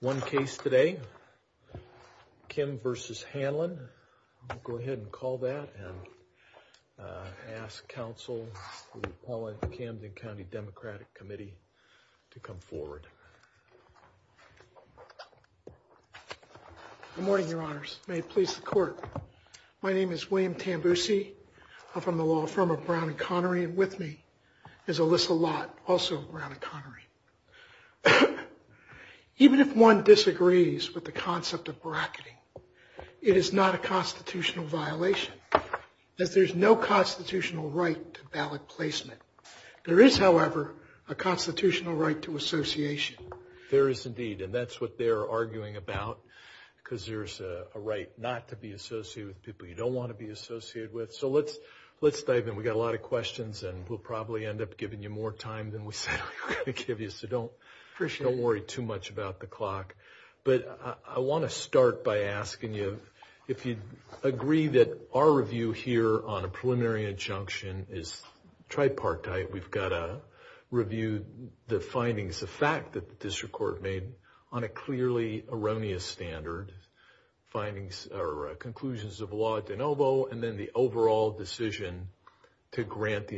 One case today, Kim v. Hanlon. I'll go ahead and call that and ask counsel Paul at the Camden County Democratic Committee to come forward. Good morning your honors. May it please the court. My name is William Tambucci. I'm from the Even if one disagrees with the concept of bracketing, it is not a constitutional violation that there's no constitutional right to ballot placement. There is however a constitutional right to association. There is indeed and that's what they're arguing about because there's a right not to be associated with people you don't want to be associated with. So let's let's dive in. We've got a lot of questions and we'll probably end up giving you more time than we're going to give you, so don't worry too much about the clock. But I want to start by asking you if you agree that our review here on a preliminary injunction is tripartite. We've got to review the findings, the fact that the district court made on a clearly erroneous standard findings or conclusions of law at de novo and then the overall decision to grant the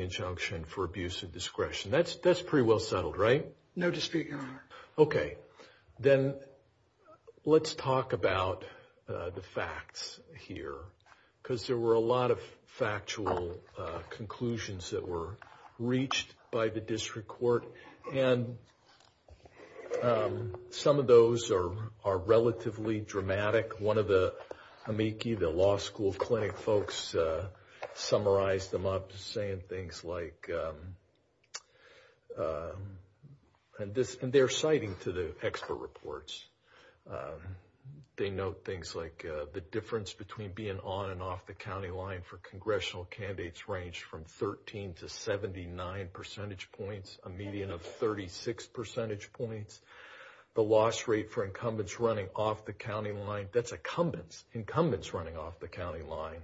discretion. That's that's pretty well settled right? No district your honor. Okay then let's talk about the facts here because there were a lot of factual conclusions that were reached by the district court and some of those are are relatively dramatic. One of the amici, the law school of clinic folks, summarized them up saying things like, and they're citing to the expert reports, they note things like the difference between being on and off the county line for congressional candidates ranged from 13 to 79 percentage points, a median of 36 percentage points, the loss rate for incumbents running off the county line, that's incumbents running off the county line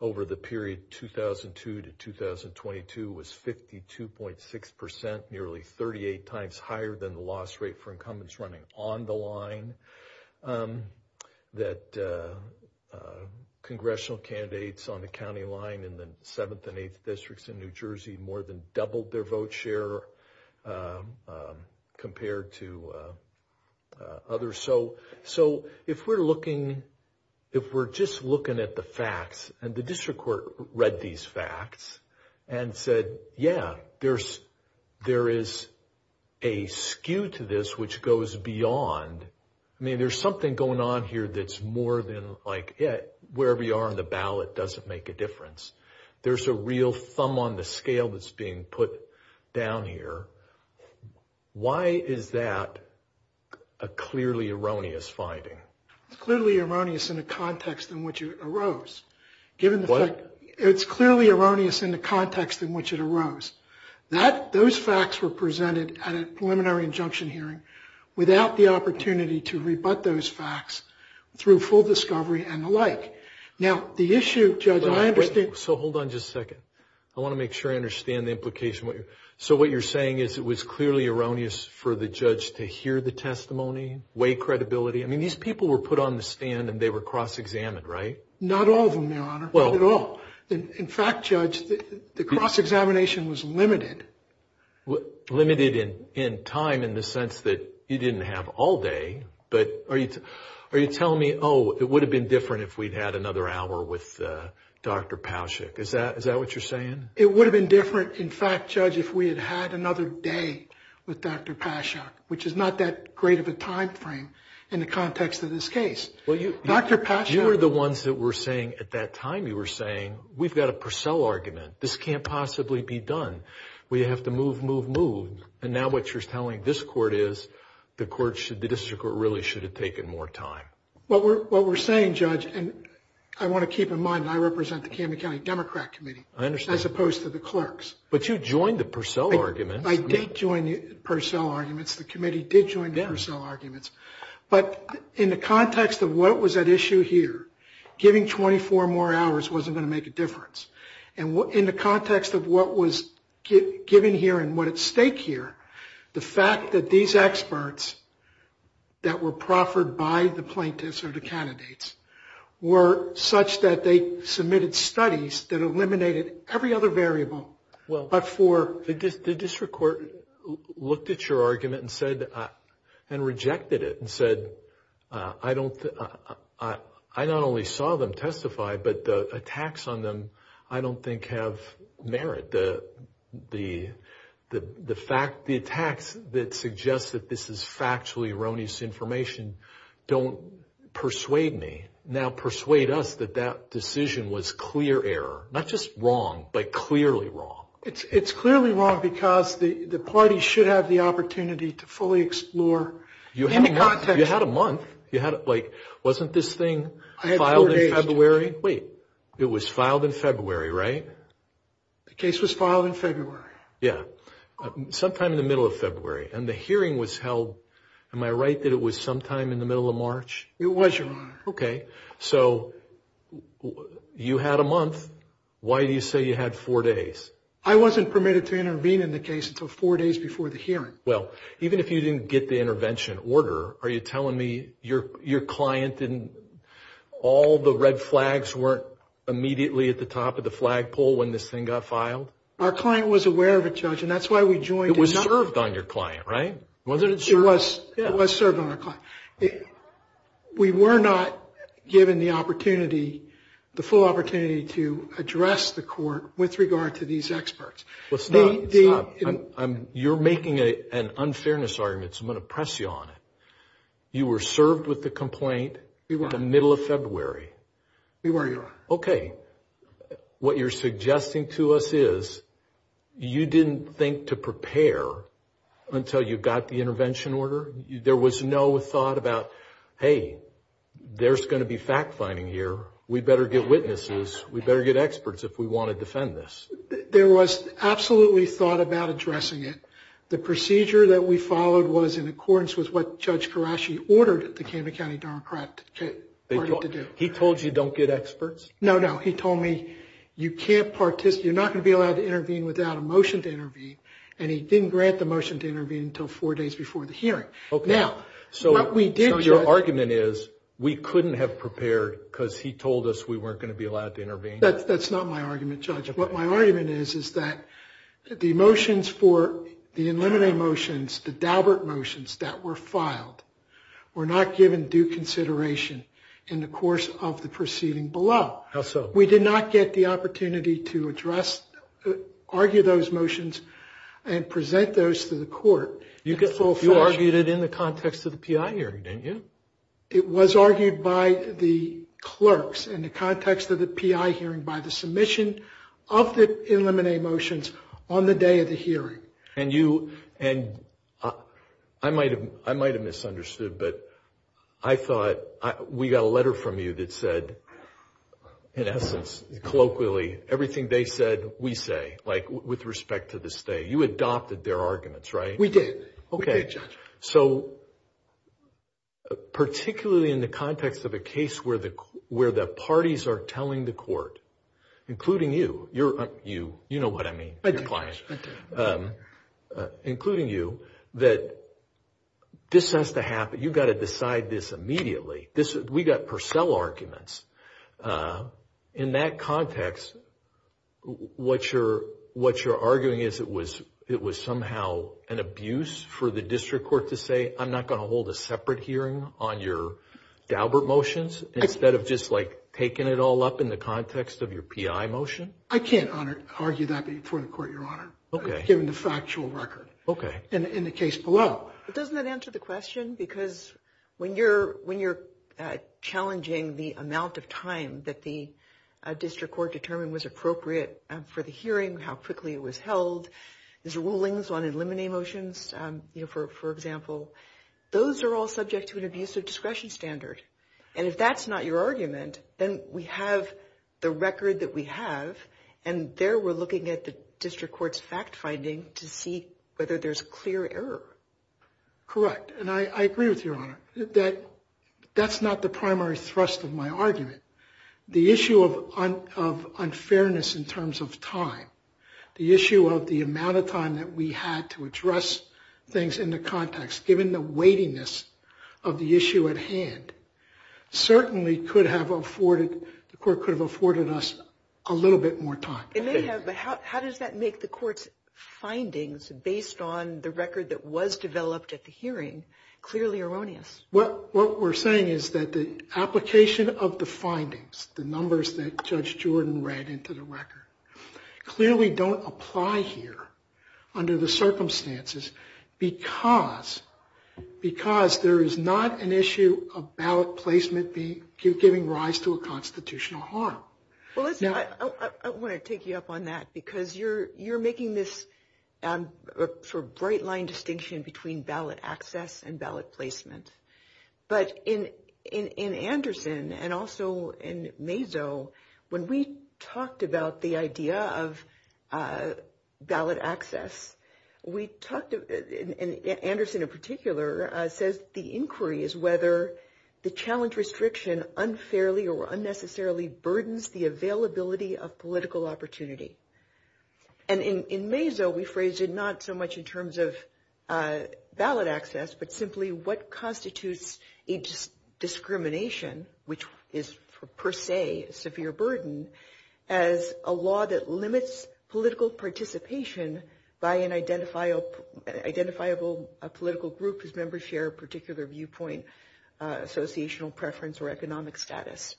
over the period 2002 to 2022 was 52.6 percent, nearly 38 times higher than the loss rate for incumbents running on the line, that congressional candidates on the county line in the seventh and eighth districts in New Jersey more than doubled their vote share compared to others. So if we're looking, if we're just looking at the facts and the district court read these facts and said yeah there's there is a skew to this which goes beyond, I mean there's something going on here that's more than like it, wherever you are in the ballot doesn't make a difference. There's a real thumb on the scale that's being put down here. Why is that a clearly erroneous finding? Clearly erroneous in the context in which you arose. What? It's clearly erroneous in the context in which it arose, that those facts were presented at a preliminary injunction hearing without the opportunity to rebut those facts through full discovery and the like. Now the issue... So hold on just a second. I want to make sure I understand the implication. So what you're saying is it was clearly erroneous for the judge to hear the testimony, weigh credibility, I mean these people were put on the stand and they were cross-examined, right? Not all of them, your honor, not at all. In fact, judge, the cross-examination was limited. Limited in time in the sense that you didn't have all day, but are you are you telling me oh it would have been different if we'd had another hour with Dr. Pauschak. Is that is that what you're saying? It would have been different, in fact, judge, if we had had another day with Dr. Pauschak, which is not that great of a time frame in the context of this case. Dr. Pauschak... You're the ones that were saying at that time you were saying we've got a Purcell argument. This can't possibly be done. We have to move move move and now what you're telling this court is the court should, the district court really should have taken more time. What we're saying, judge, and I want to keep in mind I represent the Camden County Democrat Committee. I understand. As opposed to the clerks. But you joined the Purcell argument. I did join the Purcell arguments. The committee did join the Purcell arguments, but in the context of what was at issue here, giving 24 more hours wasn't going to make a difference. And what in the context of what was given here and what at stake here, the fact that these experts that were proffered by the plaintiffs or the candidates were such that they submitted studies that eliminated every other variable but for... The district court looked at your I don't... I not only saw them testify, but the attacks on them I don't think have merit. The fact, the attacks that suggest that this is factually erroneous information don't persuade me. Now persuade us that that decision was clear error. Not just wrong, but clearly wrong. It's clearly wrong because the party should have the opportunity to fully explore. You had a month. You had like, wasn't this thing filed in February? Wait. It was filed in February, right? The case was filed in February. Yeah. Sometime in the middle of February. And the hearing was held... Am I right that it was sometime in the middle of March? It was in March. Okay. So you had a month. Why do you say you had four days? I wasn't permitted to intervene in the case until four days before the hearing. Well, even if you didn't get the intervention order, are you telling me your client didn't... all the red flags weren't immediately at the top of the flagpole when this thing got filed? Our client was aware of it, Judge, and that's why we joined... It was served on your client, right? It was served on our client. We were not given the opportunity, the full opportunity, to address the court with regard to these experts. You're making an unfairness argument, so I'm going to press you on it. You were served with the complaint in the middle of February. We were, Your Honor. Okay. What you're suggesting to us is you didn't think to prepare until you got the intervention order. There was no thought about, hey, there's going to be fact-finding here. We better get witnesses. We better get this. There was absolutely thought about addressing it. The procedure that we followed was in accordance with what Judge Karashi ordered the Canada County Democrat to do. He told you don't get experts? No, no. He told me you can't participate, you're not going to be allowed to intervene without a motion to intervene, and he didn't grant the motion to intervene until four days before the hearing. Okay. Now, what we did... So your argument is we couldn't have prepared because he told us we weren't going to be allowed to intervene? That's not my argument, Judge. What my argument is is that the motions for the inlimitary motions, the Daubert motions that were filed, were not given due consideration in the course of the proceeding below. How so? We did not get the opportunity to address, argue those motions and present those to the court. You argued it in the context of the PI hearing, didn't you? It was argued by the clerks in the context of the PI hearing by the submission of the inlimitary motions on the day of the hearing. And you, and I might have misunderstood, but I thought we got a letter from you that said, in essence, colloquially, everything they said, we say, like with respect to the state. You adopted their arguments, right? We did. Okay. So, particularly in the context of a case where the parties are telling the court, including you, you know what I mean, including you, that this has to happen, you've got to decide this immediately. We got Purcell arguments. In that context, what you're arguing is it was somehow an abuse for the district court to say, I'm not going to hold a separate hearing on your Daubert motions, instead of just like taking it all up in the context of your PI motion? I can't argue that before the court, Your Honor. Okay. Given the factual record. Okay. In the case below. But doesn't that answer the question? Because when you're challenging the amount of time that the district court determined was appropriate for the hearing, how quickly it was held, there's rulings on eliminate motions, you know, for example, those are all subject to an abuse of then we have the record that we have, and there we're looking at the district court's fact-finding to see whether there's a clear error. Correct. And I agree with you, Your Honor, that that's not the primary thrust of my argument. The issue of unfairness in terms of time, the issue of the amount of time that we had to address things in the context, given the weightiness of the issue at the court could have afforded us a little bit more time. It may have, but how does that make the court's findings, based on the record that was developed at the hearing, clearly erroneous? What we're saying is that the application of the findings, the numbers that Judge Jordan read into the record, clearly don't apply here under the circumstances because there is not an issue about placement, giving rise to a constitutional harm. I want to take you up on that because you're making this sort of bright-line distinction between ballot access and ballot placement, but in Anderson and also in Mazo, when we talked about the idea of ballot access, we talked, in Anderson in particular, said the inquiry is whether the challenge restriction unfairly or unnecessarily burdens the availability of political opportunity. And in Mazo, we phrased it not so much in terms of ballot access, but simply what constitutes a discrimination, which is per se a severe burden, as a law that limits political participation by an identifiable political group whose members share a particular viewpoint, associational preference, or economic status.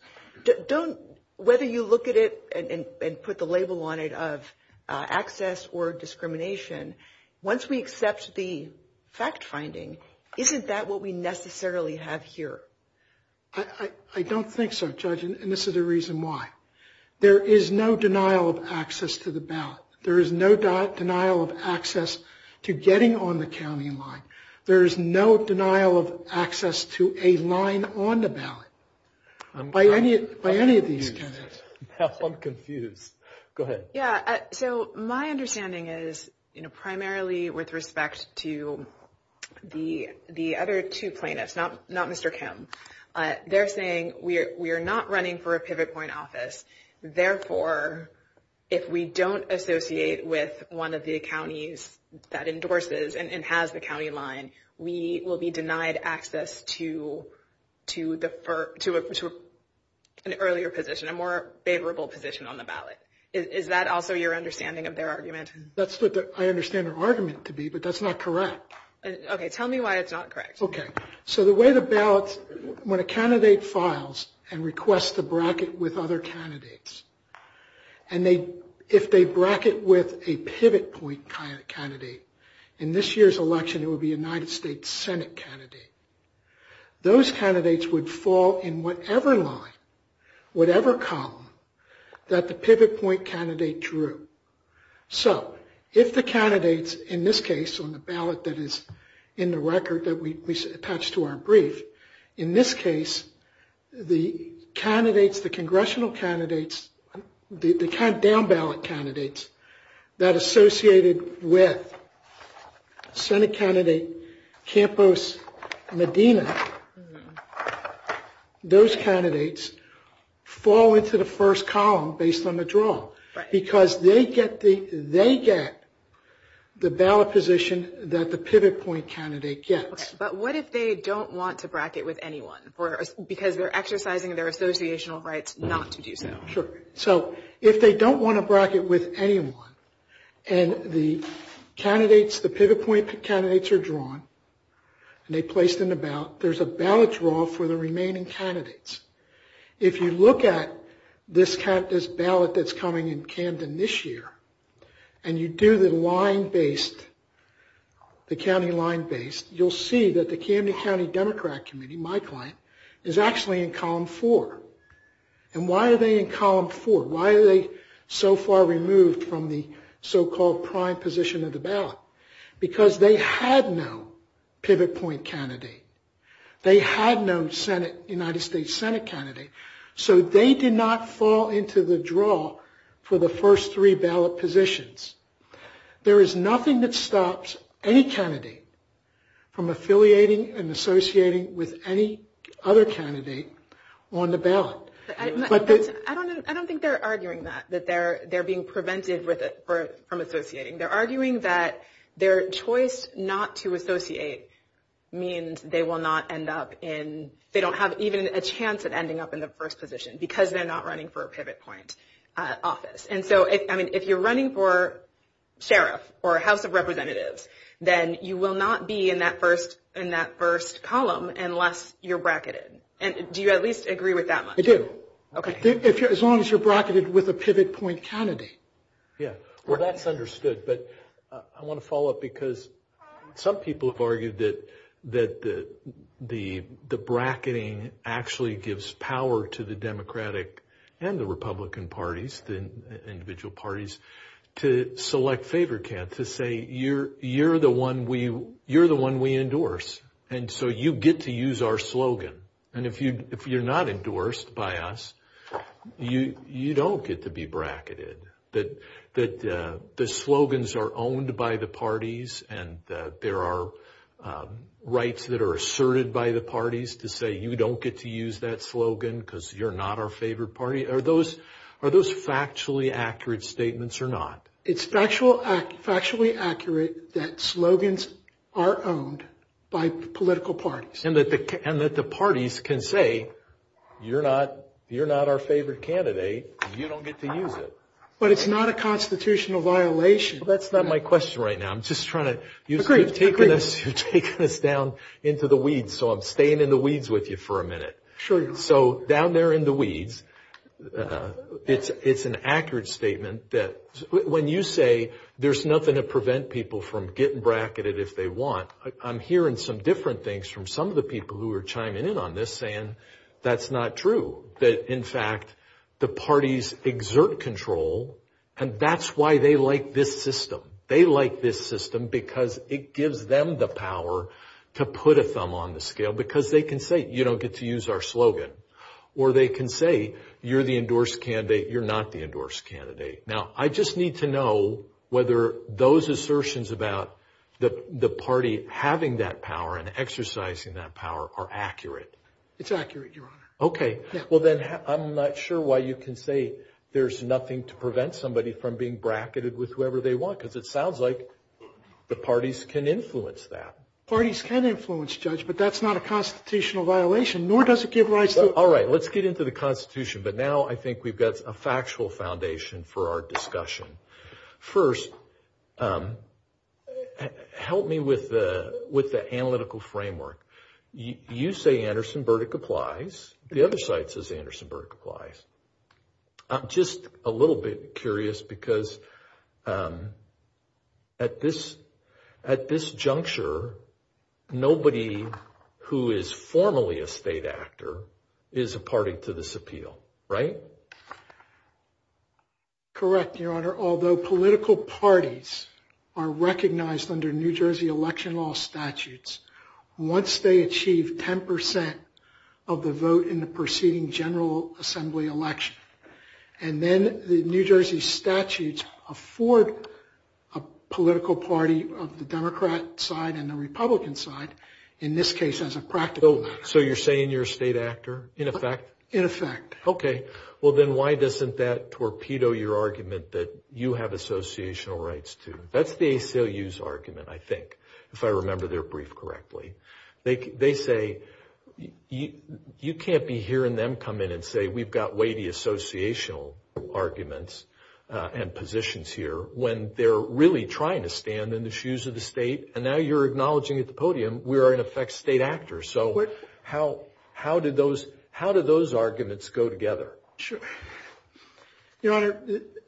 Whether you look at it and put the label on it of access or discrimination, once we accept the fact-finding, isn't that what we necessarily have here? I don't think so, Judge, and this is the reason why. There is no denial of access to the ballot. There is no denial of access to getting on the county line. There is no denial of access to a line on the ballot by any of these judges. I'm confused. Go ahead. Yeah, so my understanding is, you know, primarily with respect to the other two plaintiffs, not Mr. Kim, they're saying we are not running for a pivot point office, therefore, if we don't associate with one of the counties that endorses and has the county line, we will be denied access to an earlier position, a more favorable position on the ballot. Is that also your understanding of their argument? That's what I understand the argument to be, but that's not correct. Okay, tell me why it's not correct. Okay, so the way the ballots, when a candidate files and requests to bracket with other candidates, and if they bracket with a pivot point candidate, in this year's election it will be a United States Senate candidate, those candidates would fall in whatever line, whatever column, that the pivot point candidate drew. So, if the candidates, in this case on the ballot that is in the record that we attached to our brief, in this case, the candidates, the congressional candidates, the kind of down-ballot candidates that associated with Senate candidate Campos Medina, those candidates fall into the first column based on the draw, because they get the ballot position that the pivot point candidate gets. But what if they don't want to bracket with anyone, because they're exercising their associational rights not to do so? Sure, so if they don't want to bracket with anyone, and the candidates, the pivot point candidates are drawn, and they placed in the ballot, there's a ballot draw for the remaining candidates. If you look at this ballot that's coming in Camden this year, and you do the county line based, you'll see that the Camden County Democrat Committee, my client, is actually in column four. And why are they in column four? Why are they so far removed from the so-called prime position of the ballot? Because they had no pivot point candidate. They had no Senate, United States Senate candidate, so they did not fall into the draw for the first three ballot positions. There is any candidate from affiliating and associating with any other candidate on the ballot. I don't think they're arguing that, that they're being prevented from associating. They're arguing that their choice not to associate means they will not end up in, they don't have even a chance of ending up in the first position, because they're not running for a pivot point office. And then you will not be in that first, in that first column unless you're bracketed. And do you at least agree with that? I do. Okay. As long as you're bracketed with a pivot point candidate. Yeah, well that's understood, but I want to follow up because some people have argued that the bracketing actually gives power to the Democratic and the Republican parties, the individual parties, to select a favorite candidate, to say you're the one we endorse, and so you get to use our slogan. And if you're not endorsed by us, you don't get to be bracketed. That the slogans are owned by the parties, and there are rights that are asserted by the parties to say you don't get to use that slogan, because you're not our favorite party. Are those factually accurate statements or not? It's factually accurate that slogans are owned by political parties. And that the parties can say, you're not our favorite candidate, you don't get to use it. But it's not a constitutional violation. That's not my question right now, I'm just trying to, you've taken us down into the weeds, so I'm staying in the weeds with you for a minute. Sure. So down there in the weeds, it's an accurate statement that when you say there's nothing to prevent people from getting bracketed if they want, I'm hearing some different things from some of the people who are chiming in on this, saying that's not true. That in fact, the parties exert control, and that's why they like this system. They like this system because it gives them the power to put a thumb on the scale, because they can say you don't get to use our slogan, or they can say you're the endorsed candidate, you're not the endorsed candidate. Now I just need to know whether those assertions about the party having that power and exercising that power are accurate. It's accurate, your honor. Okay, well then I'm not sure why you can say there's nothing to prevent somebody from being bracketed with whoever they want, because it sounds like the parties can influence that. Parties can influence, Judge, but that's not a constitutional violation, nor does it give rise to... All right, let's get into the Constitution, but now I think we've got a factual foundation for our discussion. First, help me with the analytical framework. You say Anderson-Burdick applies, the other side says Anderson-Burdick applies. I'm just a little bit curious, because at this juncture, nobody who is formally a state actor is a party to this appeal, right? Correct, your honor. Although political parties are recognized under New Jersey election law statutes, once they achieve 10% of the vote in the preceding General Assembly election, and then the New Jersey statutes afford a political party of the Democrat side and the Republican side, in this case as a practical... So you're saying you're a state actor, in effect? In effect. Okay, well then why doesn't that torpedo your argument that you have associational rights to? That's the ACLU's argument, I think, if I remember their brief correctly. They say you can't be hearing them come in and say we've got weighty associational arguments and positions here when they're really trying to stand in the shoes of the state, and now you're acknowledging at the podium we are in effect state actors. So how do those arguments go together? Your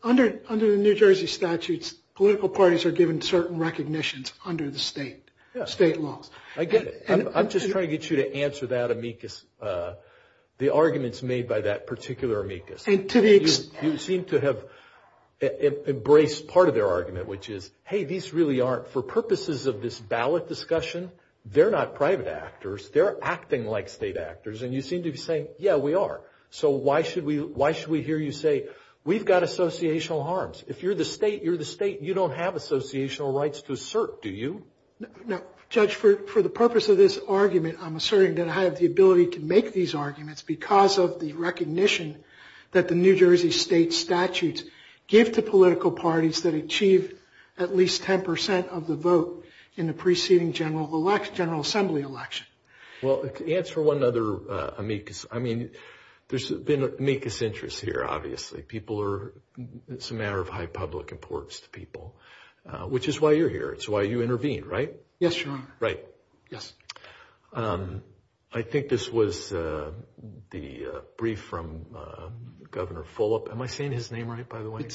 honor, under the New Jersey statutes, political parties are given certain recognitions under the state law. I get it. I'm just trying to get you to answer that amicus, the arguments made by that particular amicus. You seem to have embraced part of their argument, which is, hey, these really aren't, for purposes of this ballot discussion, they're not private actors, they're acting like state actors, and you seem to be saying, yeah, we are. So why should we hear you say we've got associational harms? If you're the state, you're the state, you don't have associational rights to assert, do you? No, Judge, for the purpose of this argument, I'm asserting that I have the ability to make these arguments because of the recognition that the New Jersey state statutes give to political parties that achieved at least 10% of the vote in the preceding General Assembly election. Well, answer one other amicus. I mean, there's been amicus interest here, obviously. It's a matter of high public importance to people, which is why you're here. It's why you intervene, right? Yes, your honor. Right. Yes. I think this was the brief from Governor Fulop. Am I saying his name right, by the way? I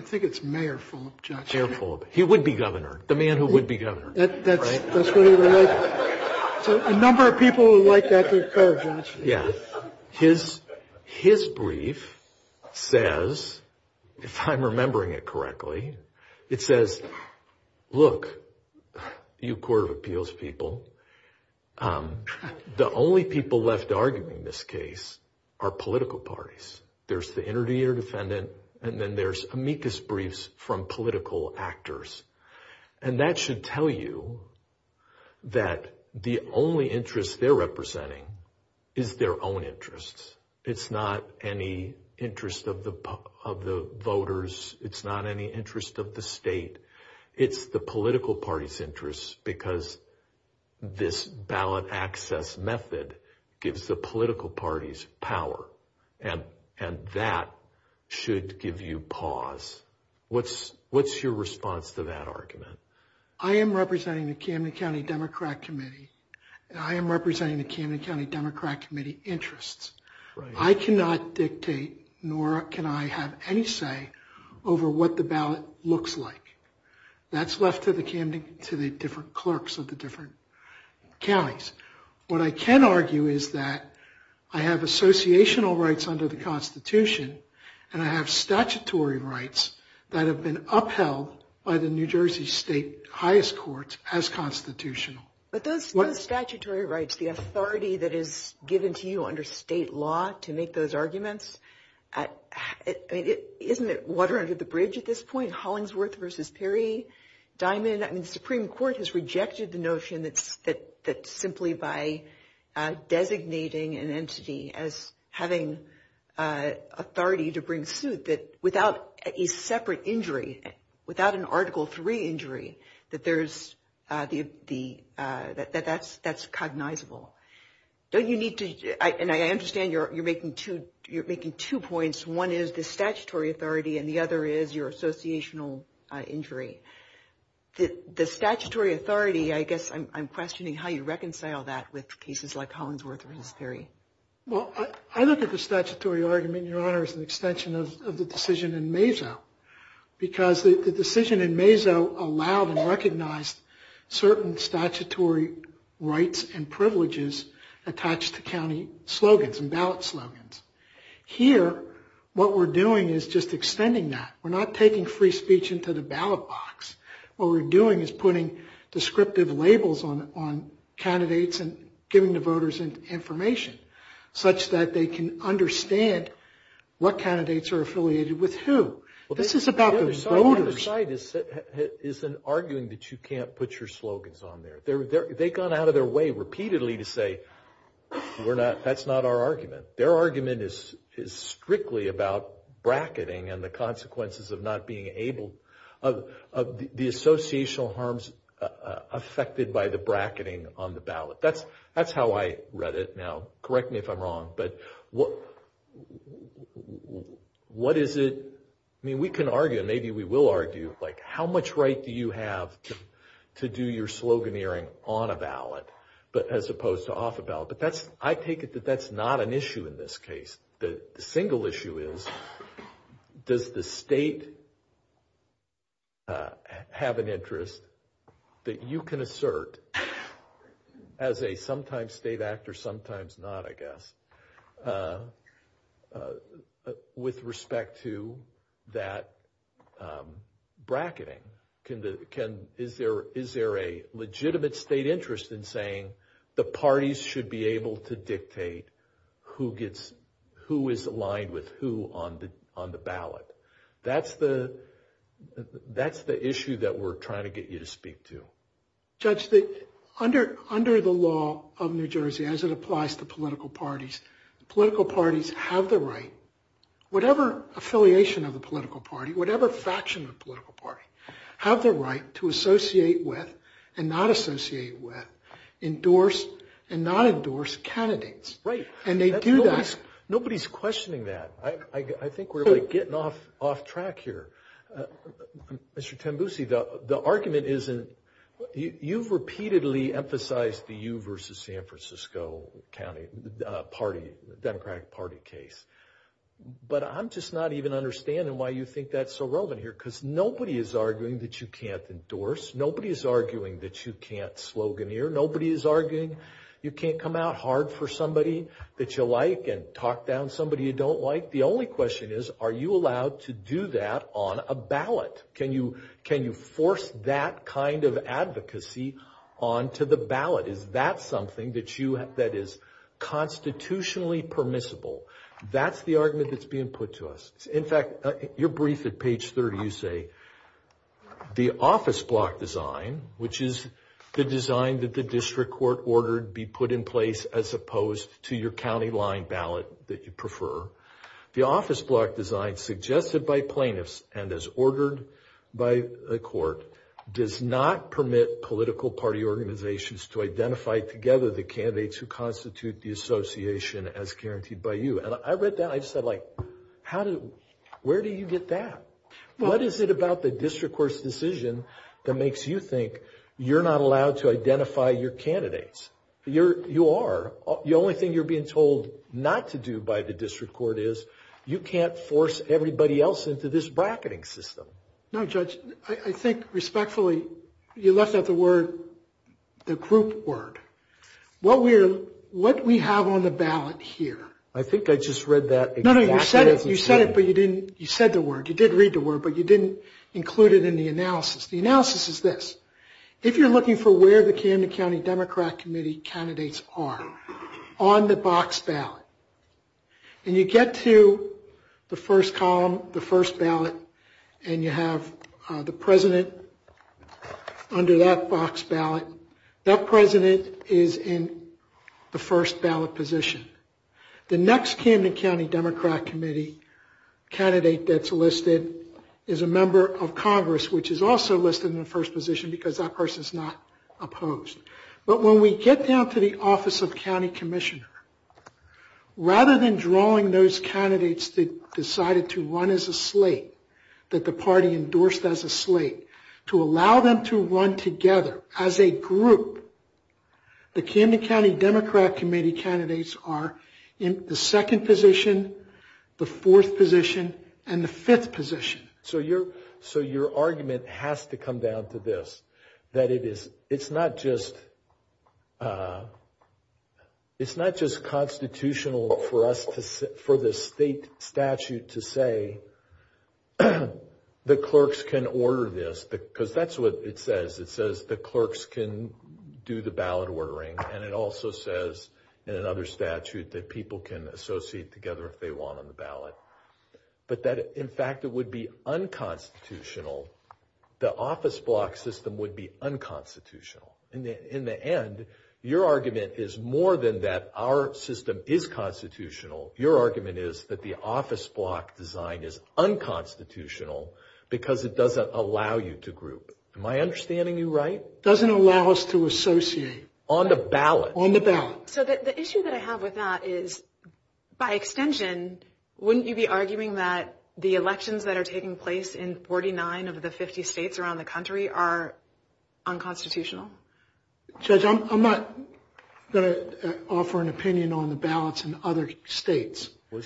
think it's Mayor Fulop, Judge. Mayor Fulop. He would be governor, the man who would be governor. A number of people would like that brief better, Judge. Yes. His brief says, if I'm remembering it correctly, it says, look, you Court of Appeals people, the only people left arguing this case are political parties. There's the interdictor defendant, and then there's amicus briefs from political actors. And that should tell you that the only interest they're representing is their own interests. It's not any interest of the voters. It's not any interest of the state. It's the political party's interests because this ballot access method gives the political parties power, and that should give you pause. What's your response to that argument? I am representing the Camden County Democrat Committee, and I am representing the Camden County Democrat Committee interests. I cannot dictate, nor can I have any say over what the ballot looks like. That's left to the different clerks of the different counties. What I can argue is that I have associational rights under the Constitution, and I have statutory rights that have been upheld by the New Jersey State highest courts as constitutional. But those statutory rights, the authority that is given to you under state law to make those arguments, isn't it water under the bridge at this point? Hollingsworth versus Perry, Diamond, and it's simply by designating an entity as having authority to bring suit that without a separate injury, without an Article 3 injury, that's cognizable. And I understand you're making two points. One is the statutory authority, and the other is your associational injury. The statutory authority, I guess I'm questioning how you reconcile that with cases like Hollingsworth versus Perry. Well, I look at the statutory argument, Your Honor, as an extension of the decision in Mazo, because the decision in Mazo allowed and recognized certain statutory rights and privileges attached to county slogans and ballot slogans. Here, what we're doing is just extending that. We're not taking free speech into the ballot box. What we're doing is putting descriptive labels on candidates and giving the voters information such that they can understand what candidates are affiliated with who. This is about the voters. What you're trying to say is an arguing that you can't put your slogans on there. They've gone out of their way repeatedly to say that's not our of not being able of the associational harms affected by the bracketing on the ballot. That's how I read it. Now, correct me if I'm wrong, but what is it, I mean, we can argue, maybe we will argue, like how much right do you have to do your sloganeering on a ballot as opposed to off a ballot? But that's, I take it that that's not an issue in this case. The single issue is does the state have an interest that you can assert as a sometimes state actor, sometimes not, I guess, with respect to that bracketing. Is there a legitimate state interest in saying the parties should be able to dictate who that's the issue that we're trying to get you to speak to? Judge, under the law of New Jersey, as it applies to political parties, political parties have the right, whatever affiliation of the political party, whatever faction of political party, have the right to associate with and not associate with, endorse and not endorse candidates. Right. And they do that. Nobody's questioning that. I think we're getting off track here. Mr. Tembusi, the argument isn't, you've repeatedly emphasized the you versus San Francisco County Party, Democratic Party case, but I'm just not even understanding why you think that's so relevant here, because nobody is arguing that you can't endorse, nobody's arguing that you can't sloganeer, nobody is arguing you can't come out hard for The only question is, are you allowed to do that on a ballot? Can you force that kind of advocacy onto the ballot? Is that something that you have, that is constitutionally permissible? That's the argument that's being put to us. In fact, you're briefed at page 30, you say, the office block design, which is the design that the district court ordered be put in place as opposed to your county line ballot that you prefer, the office block design suggested by plaintiffs and as ordered by the court, does not permit political party organizations to identify together the candidates who constitute the association as guaranteed by you. And I read that, I said like, how do, where do you get that? What is it about the district court's decision that makes you think you're not being told not to do by the district court is, you can't force everybody else into this bracketing system. No Judge, I think respectfully, you left out the word, the group word. What we're, what we have on the ballot here. I think I just read that. No, no, you said it, but you didn't, you said the word, you did read the word, but you didn't include it in the analysis. The analysis is this, if you're on the box ballot, and you get to the first column, the first ballot, and you have the president under that box ballot, that president is in the first ballot position. The next Camden County Democrat Committee candidate that's listed is a member of Congress, which is also listed in the first position because that person is not opposed. But when we get down to the Office of County Commissioner, rather than drawing those candidates that decided to run as a slate, that the party endorsed as a slate, to allow them to run together as a group, the Camden County Democrat Committee candidates are in the second position, the fourth position, and the fifth position. So your, so your argument has to come down to this, that it's not just, it's not just constitutional for us to, for the state statute to say the clerks can order this, because that's what it says, it says the clerks can do the ballot ordering, and it also says in another statute that people can associate together if they want on the ballot. But that, in fact, it would be unconstitutional. In the end, your argument is more than that our system is constitutional, your argument is that the office block design is unconstitutional because it doesn't allow you to group. Am I understanding you right? Doesn't allow us to associate. On the ballot. On the ballot. So the issue that I have with that is, by extension, wouldn't you be arguing that the elections that are taking place in New Jersey are unconstitutional? Judge, I'm not going to offer an opinion on the ballots in other states. I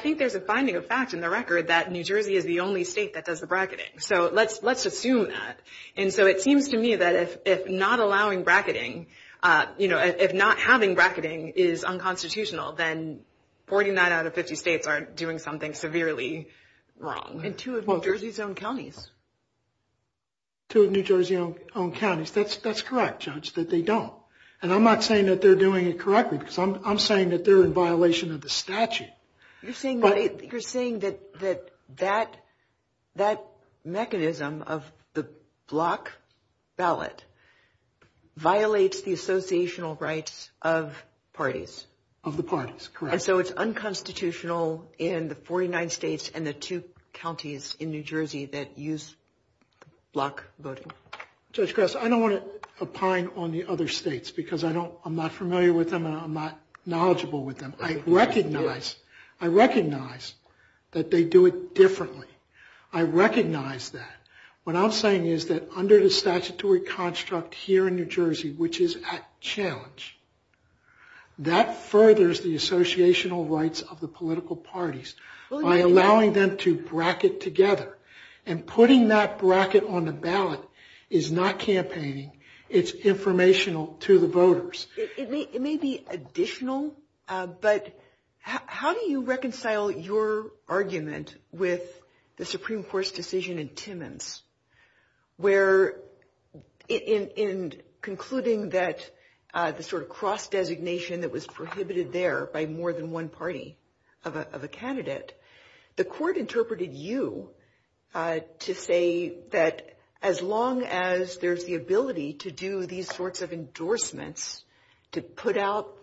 think there's a finding of fact in the record that New Jersey is the only state that does the bracketing, so let's, let's assume that. And so it seems to me that if not allowing bracketing, you know, if not having bracketing is unconstitutional, then 49 out of 50 states are doing something severely wrong. And two of New Jersey's own counties. Two of New Jersey's own counties. That's, that's correct, Judge, that they don't. And I'm not saying that they're doing it correctly. I'm saying that they're in violation of the statute. You're saying that, you're saying that, that, that mechanism of the block ballot violates the associational rights of parties. Of the parties, correct. So it's unconstitutional in the 49 states and the two counties in New Jersey that use block voting. Judge Gross, I don't want to opine on the other states because I don't, I'm not familiar with them, I'm not knowledgeable with them. I recognize, I recognize that they do it differently. I recognize that. What I'm saying is that under the statutory construct here in New Jersey, which is at challenge, that furthers the associational rights of the political parties by allowing them to bracket together. And putting that bracket on the ballot is not campaigning. It's informational to the voters. It may be additional, but how do you reconcile your argument with the Supreme Court's decision in Timmins where, in concluding that the sort of cross-designation that more than one party of a candidate, the court interpreted you to say that as long as there's the ability to do these sorts of endorsements to put out,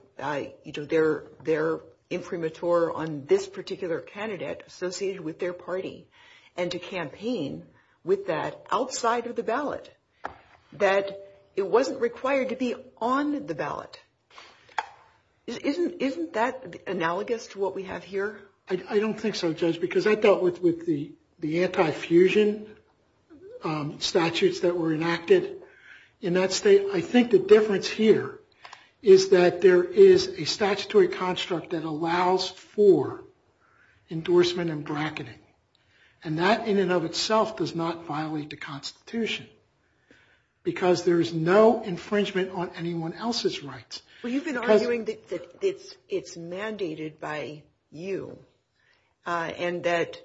you know, their, their imprimatur on this particular candidate associated with their party and to campaign with that outside of the ballot, that it wasn't required to be on the ballot? Isn't, isn't that analogous to what we have here? I don't think so, Judge, because I thought with the, the anti-fusion statutes that were enacted in that state, I think the difference here is that there is a statutory construct that allows for endorsement and bracketing. And that in and of itself does not violate the Constitution, because there is no infringement on anyone else's rights. But you've been arguing that it's, it's mandated by you and that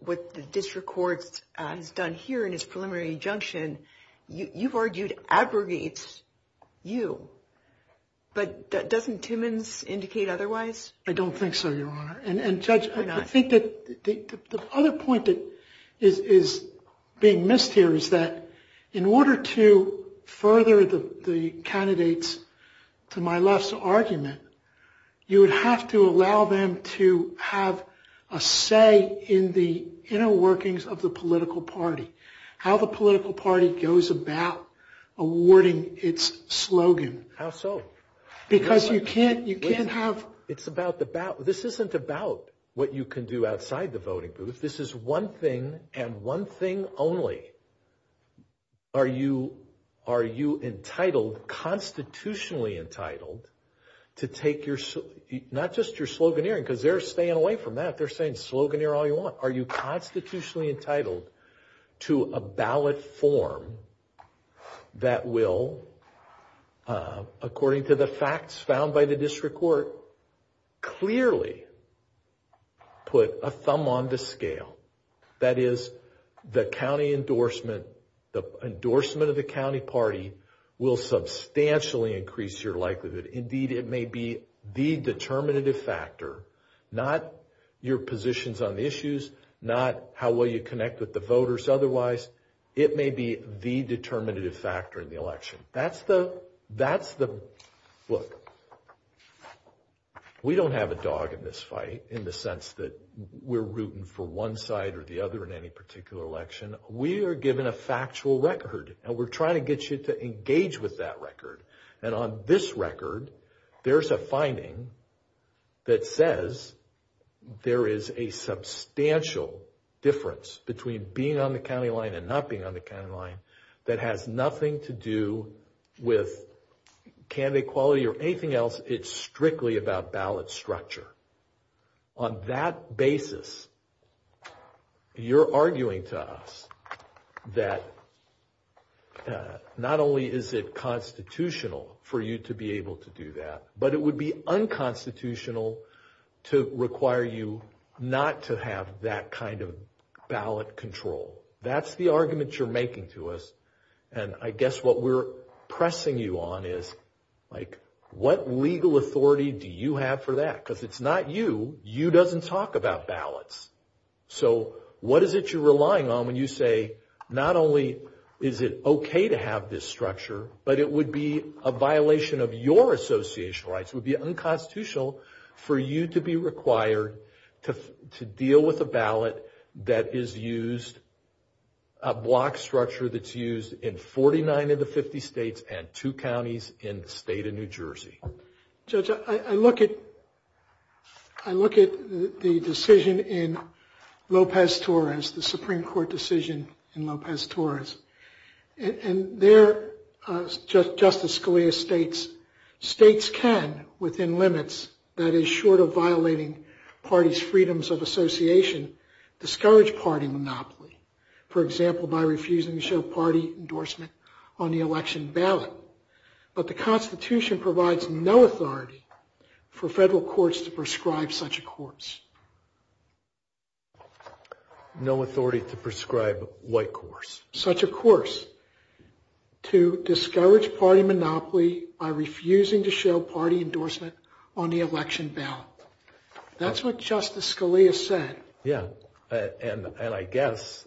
what the district court has done here in its preliminary injunction, you've argued abrogates you. But doesn't Timmins indicate otherwise? I don't think so, Your Honor. And Judge, I think that the other point that is being missed here is that in order to further the candidates to my last argument, you would have to allow them to have a say in the inner workings of the political party, how the political party goes about awarding its slogan. How so? Because you can't, you can't have... It's about the ballot. This isn't about what you can do outside the voting booth. This is one thing and one thing only. Are you, are you entitled, constitutionally entitled, to take your, not just your sloganeering, because they're staying away from that. They're saying sloganeer all you want. Are you constitutionally entitled to a ballot form that will, according to the facts found by the clearly put a thumb on the scale, that is the county endorsement, the endorsement of the county party will substantially increase your likelihood. Indeed, it may be the determinative factor, not your positions on the issues, not how well you connect with the voters. Otherwise, it may be the determinative factor in the have a dog in this fight, in the sense that we're rooting for one side or the other in any particular election. We are given a factual record and we're trying to get you to engage with that record. And on this record, there's a finding that says there is a substantial difference between being on the county line and not being on the county line that has nothing to do with candidate quality or anything else. It's strictly about ballot structure. On that basis, you're arguing to us that not only is it constitutional for you to be able to do that, but it would be unconstitutional to require you not to have that kind of ballot control. That's the argument you're making to us and I guess what we're pressing you on is, like, what legal authority do you have for that? Because it's not you. You doesn't talk about ballots. So what is it you're relying on when you say, not only is it okay to have this structure, but it would be a violation of your association rights, would be unconstitutional for you to be required to deal with a ballot that is used, a block structure that's used in 49 of the 50 states and two counties in the state of New Jersey. Judge, I look at the decision in Lopez-Torres, the Supreme Court decision in Lopez-Torres, and there, Justice Scalia states, states can, within limits, that is short of violating parties' freedoms of association, discourage party monopoly, for example, by refusing to show party endorsement on the election ballot, but the Constitution provides no authority for federal courts to prescribe such a course. No authority to prescribe what course? Such a course to discourage party monopoly by refusing to show party endorsement on the election ballot. That's what Justice Scalia said. Yeah, and I guess,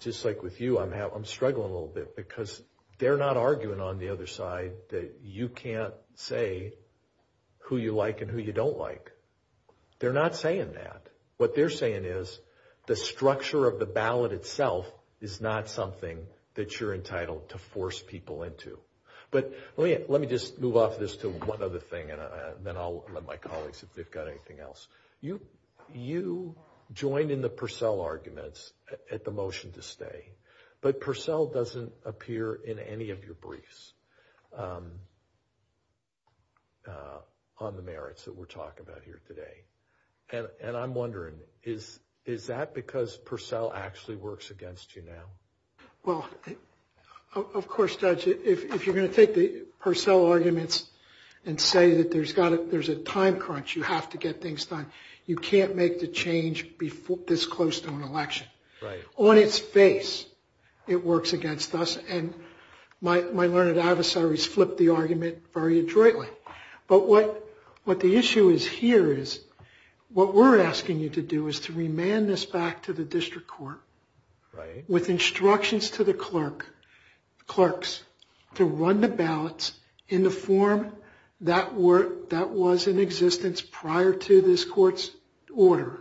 just like with you, I'm struggling a little bit because they're not arguing on the other side that you can't say who you like and who you don't like. They're not saying that. What they're saying is the structure of the ballot itself is not something that you're entitled to force people into. But let me just move off this to one other thing and then I'll let my colleagues, if they've got anything else. You join in the Purcell arguments at the motion to stay, but Purcell doesn't appear in any of your briefs on the merits that we're talking about here today, and I'm wondering, is that because Purcell actually works against you now? Well, of course, Judge, if you're arguing and say that there's a time crunch, you have to get things done, you can't make the change this close to an election. On its face, it works against us, and my learned adversaries flip the argument very adroitly. But what the issue is here is, what we're asking you to do is to remand this back to the district court with instructions to the clerks to run the ballots in the form that was in existence prior to this court's order,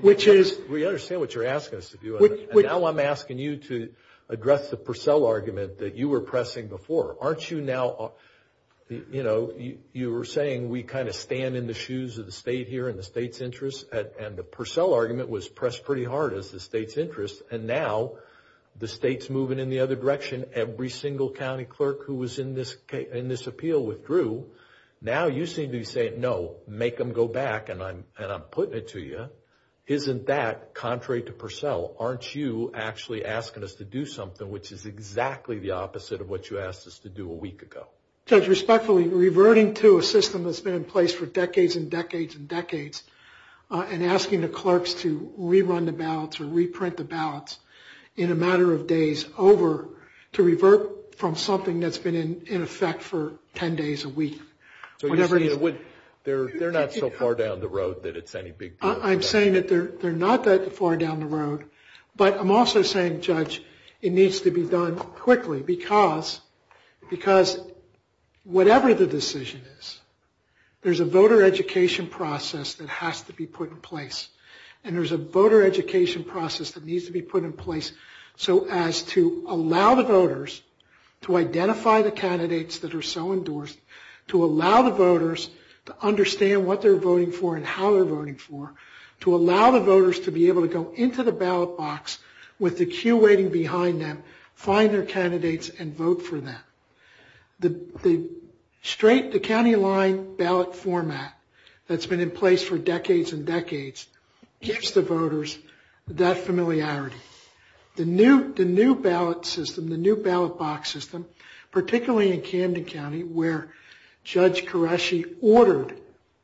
which is... We understand what you're asking us to do, and now I'm asking you to address the Purcell argument that you were pressing before. Aren't you now, you know, you were saying we kind of stand in the shoes of the state here and the state's interests, and the Purcell argument was pressed pretty hard as the state's interest, and now the state's moving in the other direction. Now, you seem to be saying, no, make them go back and I'm putting it to you. Isn't that contrary to Purcell? Aren't you actually asking us to do something which is exactly the opposite of what you asked us to do a week ago? Judge, respectfully, reverting to a system that's been in place for decades and decades and decades, and asking the clerks to rerun the ballots or reprint the ballots in a matter of days over to revert from something that's been in effect for 10 days a week. So, they're not so far down the road that it's any big deal. I'm saying that they're not that far down the road, but I'm also saying, Judge, it needs to be done quickly because whatever the decision is, there's a voter education process that has to be put in place, and there's a voter education process that needs to be put in place so as to allow the voters to identify the candidates that are so endorsed, to allow the voters to understand what they're voting for and how they're voting for, to allow the voters to be able to go into the ballot box with the queue waiting behind them, find their candidates, and vote for them. The straight to county line ballot format that's been in place for decades and decades gives the voters that familiarity. The new ballot system, the new ballot box system, particularly in Camden County, where Judge Qureshi ordered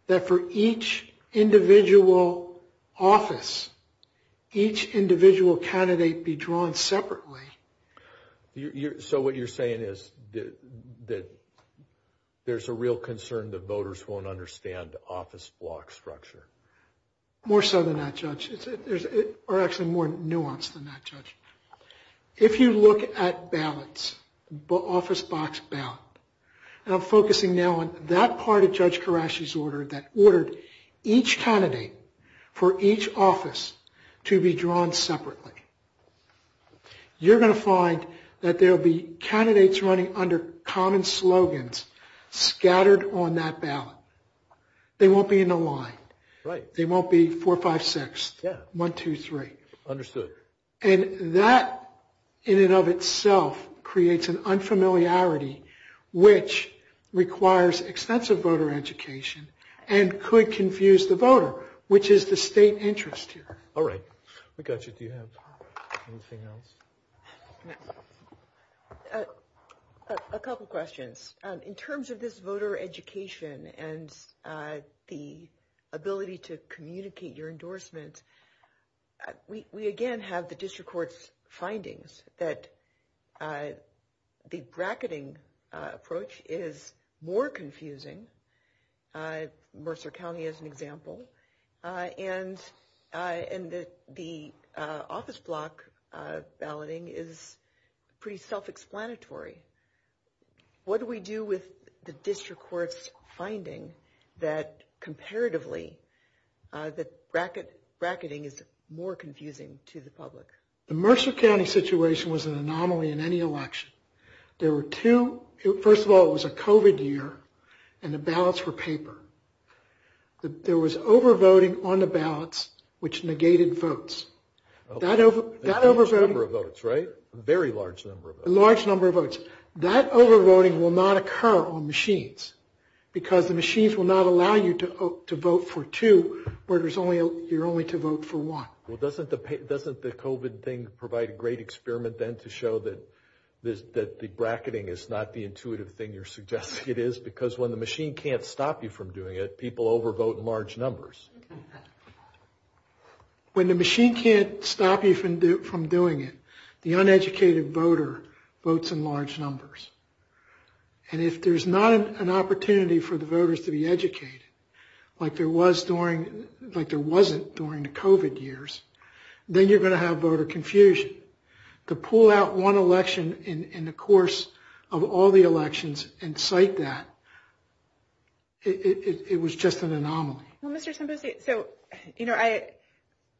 that for each individual office, each individual candidate be drawn separately. So, what you're saying is that there's a real concern the voters won't understand the office block structure? More so than that, Judge. There's actually more nuance than that, Judge. If you look at ballots, office box ballots, and I'm focusing now on that part of Judge Qureshi's order that ordered each candidate for each office to be drawn separately, you're going to find that there will be candidates running under common slogans scattered on that ballot. They won't be in the line. Right. They won't be four, five, six. Yeah. One, two, three. Understood. And that in and of itself creates an unfamiliarity which requires extensive voter education and could confuse the voter, which is the state interest here. All right. We got you. Do you have anything else? A couple questions. In terms of this voter education and the ability to communicate your endorsement, we again have the Mercer County as an example, and the office block balloting is pretty self-explanatory. What do we do with the district court's finding that comparatively, that bracketing is more confusing to the public? The Mercer County situation was an anomaly in any election. There were two. First of all, it was paper, and the ballots were paper. There was over-voting on the ballots, which negated votes. That over-voting. A large number of votes, right? A very large number of votes. A large number of votes. That over-voting will not occur on machines, because the machines will not allow you to vote for two, where you're only to vote for one. Well, doesn't the COVID thing provide a great experiment, then, to show that the bracketing is not the intuitive thing you're suggesting it is? Because when the machine can't stop you from doing it, people over-vote in large numbers. When the machine can't stop you from doing it, the uneducated voter votes in large numbers. And if there's not an opportunity for the voters to be educated, like there was during, like there wasn't during the COVID years, then you're going to have voter confusion. To pull out one election in the course of all the elections and cite that, it was just an anomaly.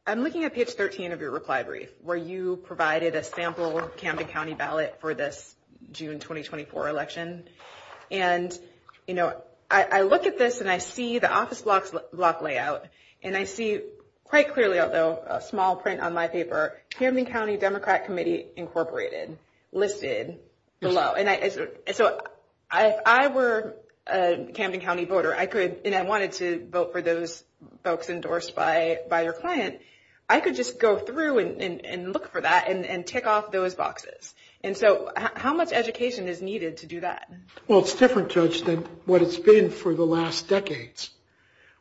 I'm looking at page 13 of your reply brief, where you provided a sample Camden County ballot for this June 2024 election. And I look at this, and I see the office block layout, and I see quite clearly, although a small print on my paper, Camden County Democrat Committee Incorporated listed below. If I were a Camden County voter, and I wanted to vote for those folks endorsed by your client, I could just go through and look for that and tick off those boxes. And so, how much education is needed to do that? Well, it's different, Joyce, than what it's been for the last decades,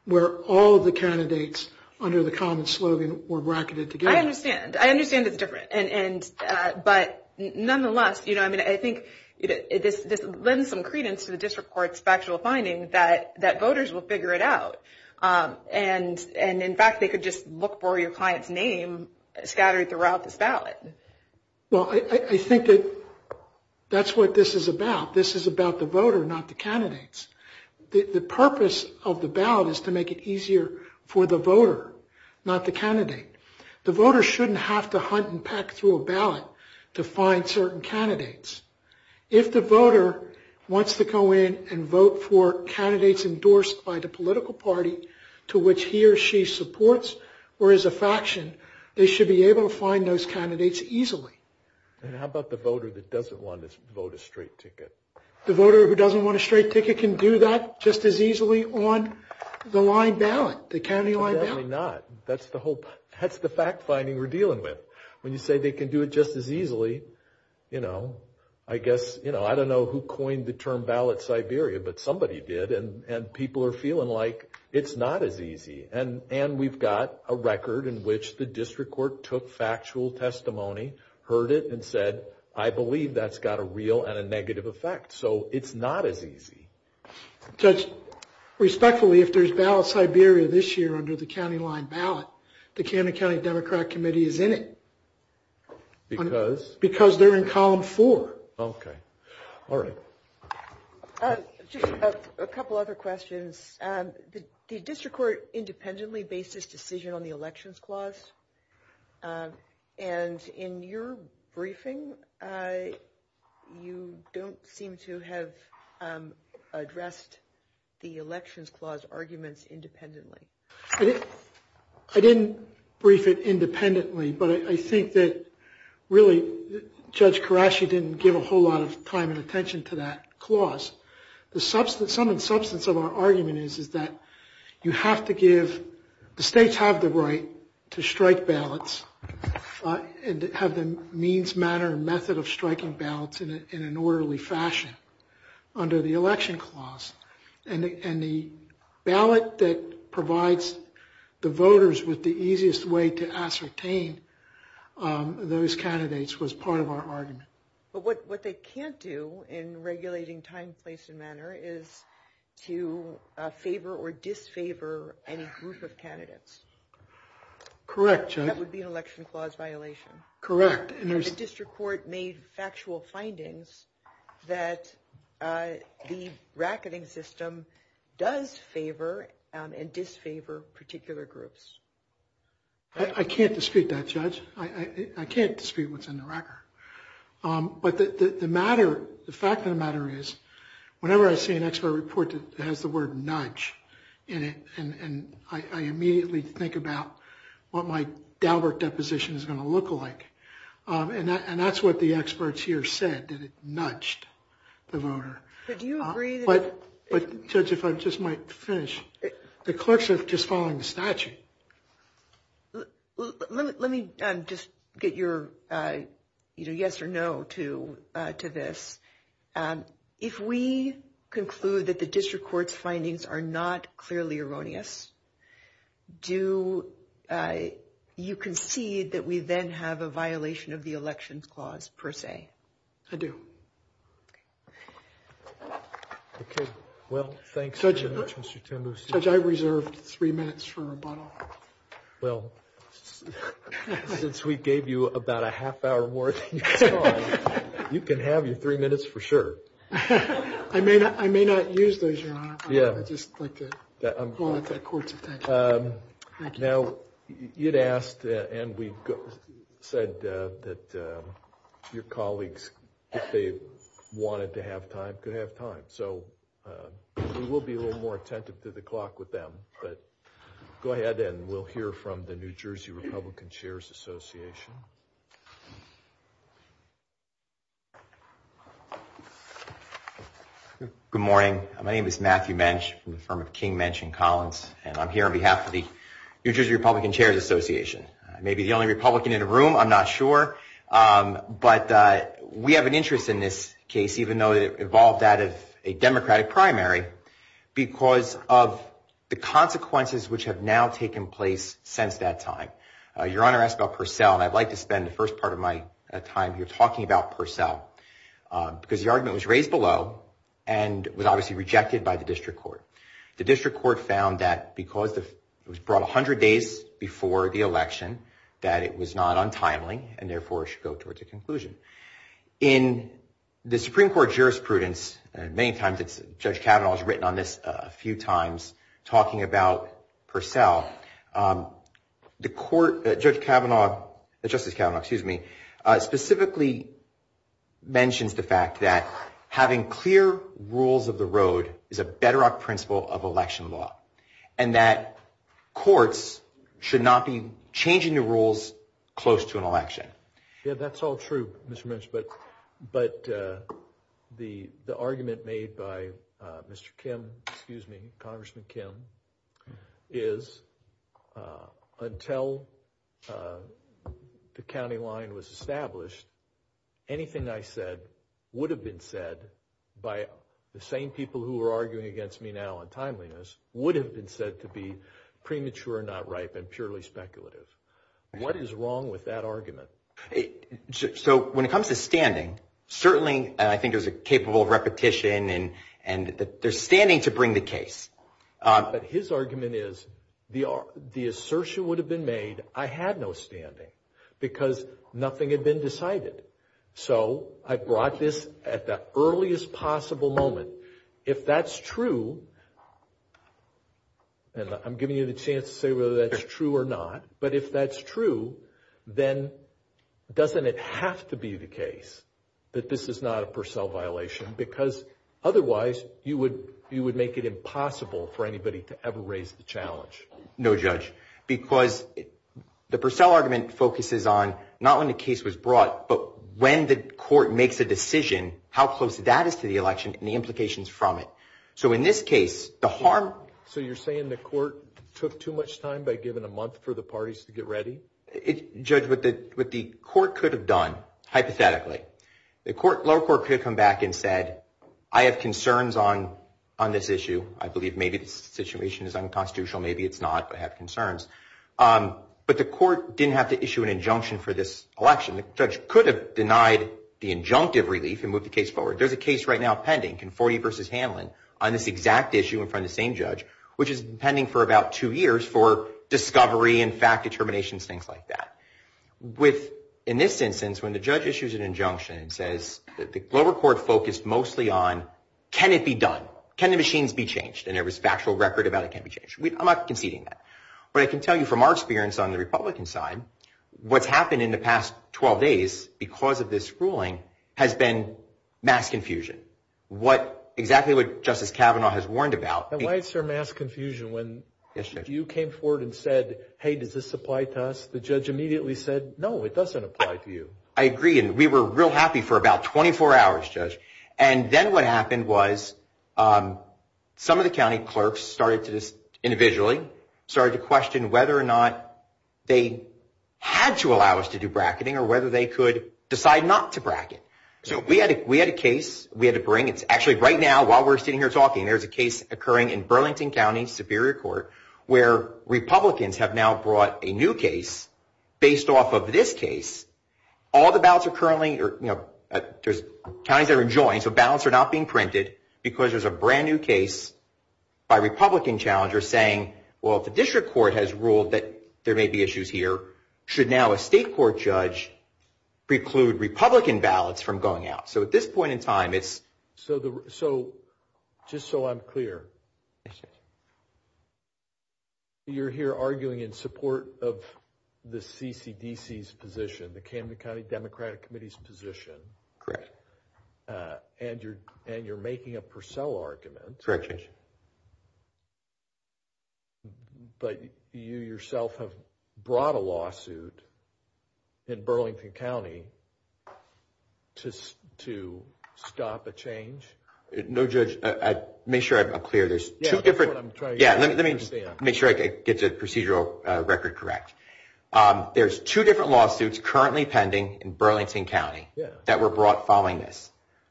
where all of the candidates under the common slogan were bracketed together. I understand. I understand it's different. But nonetheless, I think this lends some credence to the district court's factual findings that voters will figure it out. And in fact, they could just look for your client's name scattered throughout this ballot. Well, I think that that's what this is about. This is about the voter, not the candidates. The purpose of the ballot is to make it easier for the voter, not the candidate. The voter shouldn't have to hunt and peck through a ballot to find certain candidates. If the voter wants to go in and vote for candidates endorsed by the political party to which he or she supports, or is a faction, they should be able to find those candidates easily. And how about the voter that doesn't want to vote a straight ticket? The voter who doesn't want a straight ticket can do that just as easily on the line ballot, the county line ballot. Certainly not. That's the fact finding we're dealing with. When you say they can do it just as easily, I don't know who coined the term ballot Siberia, but somebody did. And people are feeling like it's not as easy. And we've got a record in which the district court took factual testimony, heard it, and said, I believe that's got a real and a negative effect. So it's not as easy. Respectfully, if there's ballot Siberia this year under the county line ballot, the Canada County Democratic Committee is in it. Because? Because they're in column four. Okay. All right. A couple other questions. The district court independently based its decision on the elections clause. And in your briefing, you don't seem to have addressed the elections clause arguments independently. I didn't brief it independently. But I think that really, Judge Karashi didn't give a whole lot of time and attention to that clause. The substance of our argument is that the states have the right to strike ballots and have the means, manner, and method of striking ballots in an orderly fashion under the election clause. And the ballot that provides the voters with the easiest way to ascertain those candidates was part of our argument. But what they can't do in regulating time, place, and manner is to favor or disfavor any group of candidates. Correct, Judge. That would be an election clause violation. Correct. The district court made factual findings that the racketing system does favor and disfavor particular groups. I can't dispute that, Judge. I can't dispute what's in the record. But the fact of the matter is, whenever I see an expert report that has the word nudge in it, I immediately think about what my downward deposition is going to look like. And that's what the experts here said, that it nudged the voter. But do you agree that— But, Judge, if I just might finish, the clerks are just following the statute. Let me just get your yes or no to this. If we conclude that the district court's findings are not clearly erroneous, do you concede that we then have a violation of the elections clause, per se? I do. Okay. Well, thanks very much, Mr. Timbers. Judge, I reserved three minutes for rebuttal. Well, since we gave you about a half hour worth, you can have your three minutes for sure. I may not use those, Your Honor. Yeah. Now, you'd asked, and we said that your colleagues, if they wanted to have time, could have time. So we will be a little more attentive to the clock with them. But go ahead, and we'll hear from the New Jersey Republican Chairs Association. Good morning. My name is Matthew Mensch. I'm from King, Mensch & Collins, and I'm here on behalf of the New Jersey Republican Chairs Association. I may be the only Republican in the room. I'm not sure. But we have an interest in this case, even though it evolved out of a Democratic primary, because of the consequences which have now taken place since that time. Your Honor, I asked about Purcell, and I'd like to spend the first part of my time here talking about Purcell. Because the argument was raised below, and was obviously rejected by the district court. The district court found that because it was brought 100 days before the election, that it was not untimely, and therefore should go towards a conclusion. In the Supreme Court jurisprudence, and many times, Judge Kavanaugh has written on this a few times, talking about Purcell. Judge Kavanaugh specifically mentions the fact that having clear rules of the road is a bedrock principle of election law, and that courts should not be changing the rules close to an election. Yeah, that's all true, Mr. Mensch. But the argument made by Congressman Kim is, until the county line was established, anything I said would have been said by the same people who are arguing against me now on timeliness, would have been said to be premature, not ripe, and purely speculative. What is wrong with that argument? So when it comes to standing, certainly I think there's a capable repetition, and there's standing to bring the case. But his argument is, the assertion would have been made, I had no standing, because nothing had been decided. So I brought this at the earliest possible moment. If that's true, and I'm giving you the chance to say whether that's true or not, but if that's true, then doesn't it have to be the case that this is not a Purcell violation? Because otherwise, you would make it impossible for anybody to ever raise the challenge. No, Judge, because the Purcell argument focuses on not when the case was brought, but when the court makes a decision, how close that is to the election and the implications from it. So in this case, the harm... So you're saying the court took too much time by giving a month for the parties to get ready? Judge, what the court could have done, hypothetically, the lower court could have come back and said, I have concerns on this issue. I believe maybe the situation is unconstitutional, maybe it's not, but I have concerns. But the court didn't have to issue an injunction for this election. The judge could have denied the injunctive relief and moved the case forward. There's a case right now pending, Conforti v. Hanlon, on this exact issue in front of the same judge, which has been pending for about two years for discovery and fact determination and things like that. In this instance, when the judge issues an injunction and says that the lower court focused mostly on, can it be done? Can the machines be changed? And there was factual record about it can be changed. I'm not conceding that. But I can tell you from our experience on the Republican side, what's happened in the past 12 days because of this ruling has been mass confusion. What exactly what Justice Kavanaugh has warned about... And why is there mass confusion when you came forward and said, hey, does this apply to us? The judge immediately said, no, it doesn't apply to you. I agree. And we were real happy for about 24 hours, Judge. And then what happened was some of the county clerks started to individually started to question whether or not they had to allow us to do bracketing or whether they could decide not to bracket. So we had a case. We had to bring it. Actually, right now, while we're sitting here talking, there's a case occurring in Burlington County, Superior Court, where Republicans have now brought a new case based off of this case. All the ballots are currently... There's counties that are joined, so ballots are not being printed because there's a brand new case by Republican challengers saying, well, if the district court has ruled that there may be issues here, should now a state court judge preclude Republican ballots from going out? So at this point in time, it's... So just so I'm clear, you're here arguing in support of the CCDC's position, the Camden County Democratic Committee's position. Correct. And you're making a Purcell argument. Correct, Judge. But you yourself have brought a lawsuit in Burlington County to stop a change? No, Judge. Make sure I'm clear. There's two different... Yeah, that's what I'm trying to understand. Yeah, let me just make sure I get the procedural record correct. There's two different lawsuits currently pending in Burlington County that were brought following this.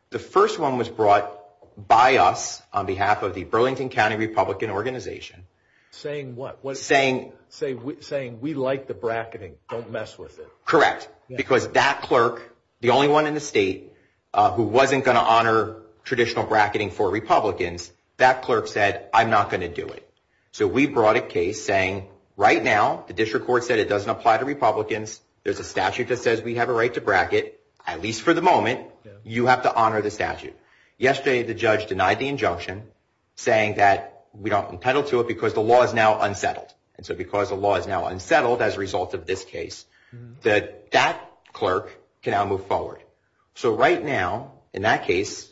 The first one was brought by us on behalf of the Burlington County Republican Organization. Saying what? Saying... Saying we like the bracketing. Don't mess with it. Correct. Because that clerk, the only one in the state who wasn't going to honor traditional bracketing for Republicans, that clerk said, I'm not going to do it. So we brought a case saying, right now, the district court said it doesn't apply to Republicans. There's a statute that says we have a right to bracket. At least for the moment, you have to honor the statute. Yesterday, the judge denied the injunction saying that we aren't entitled to it because the law is now unsettled. And so because the law is now unsettled as a result of this case, that that clerk can now move forward. So right now, in that case,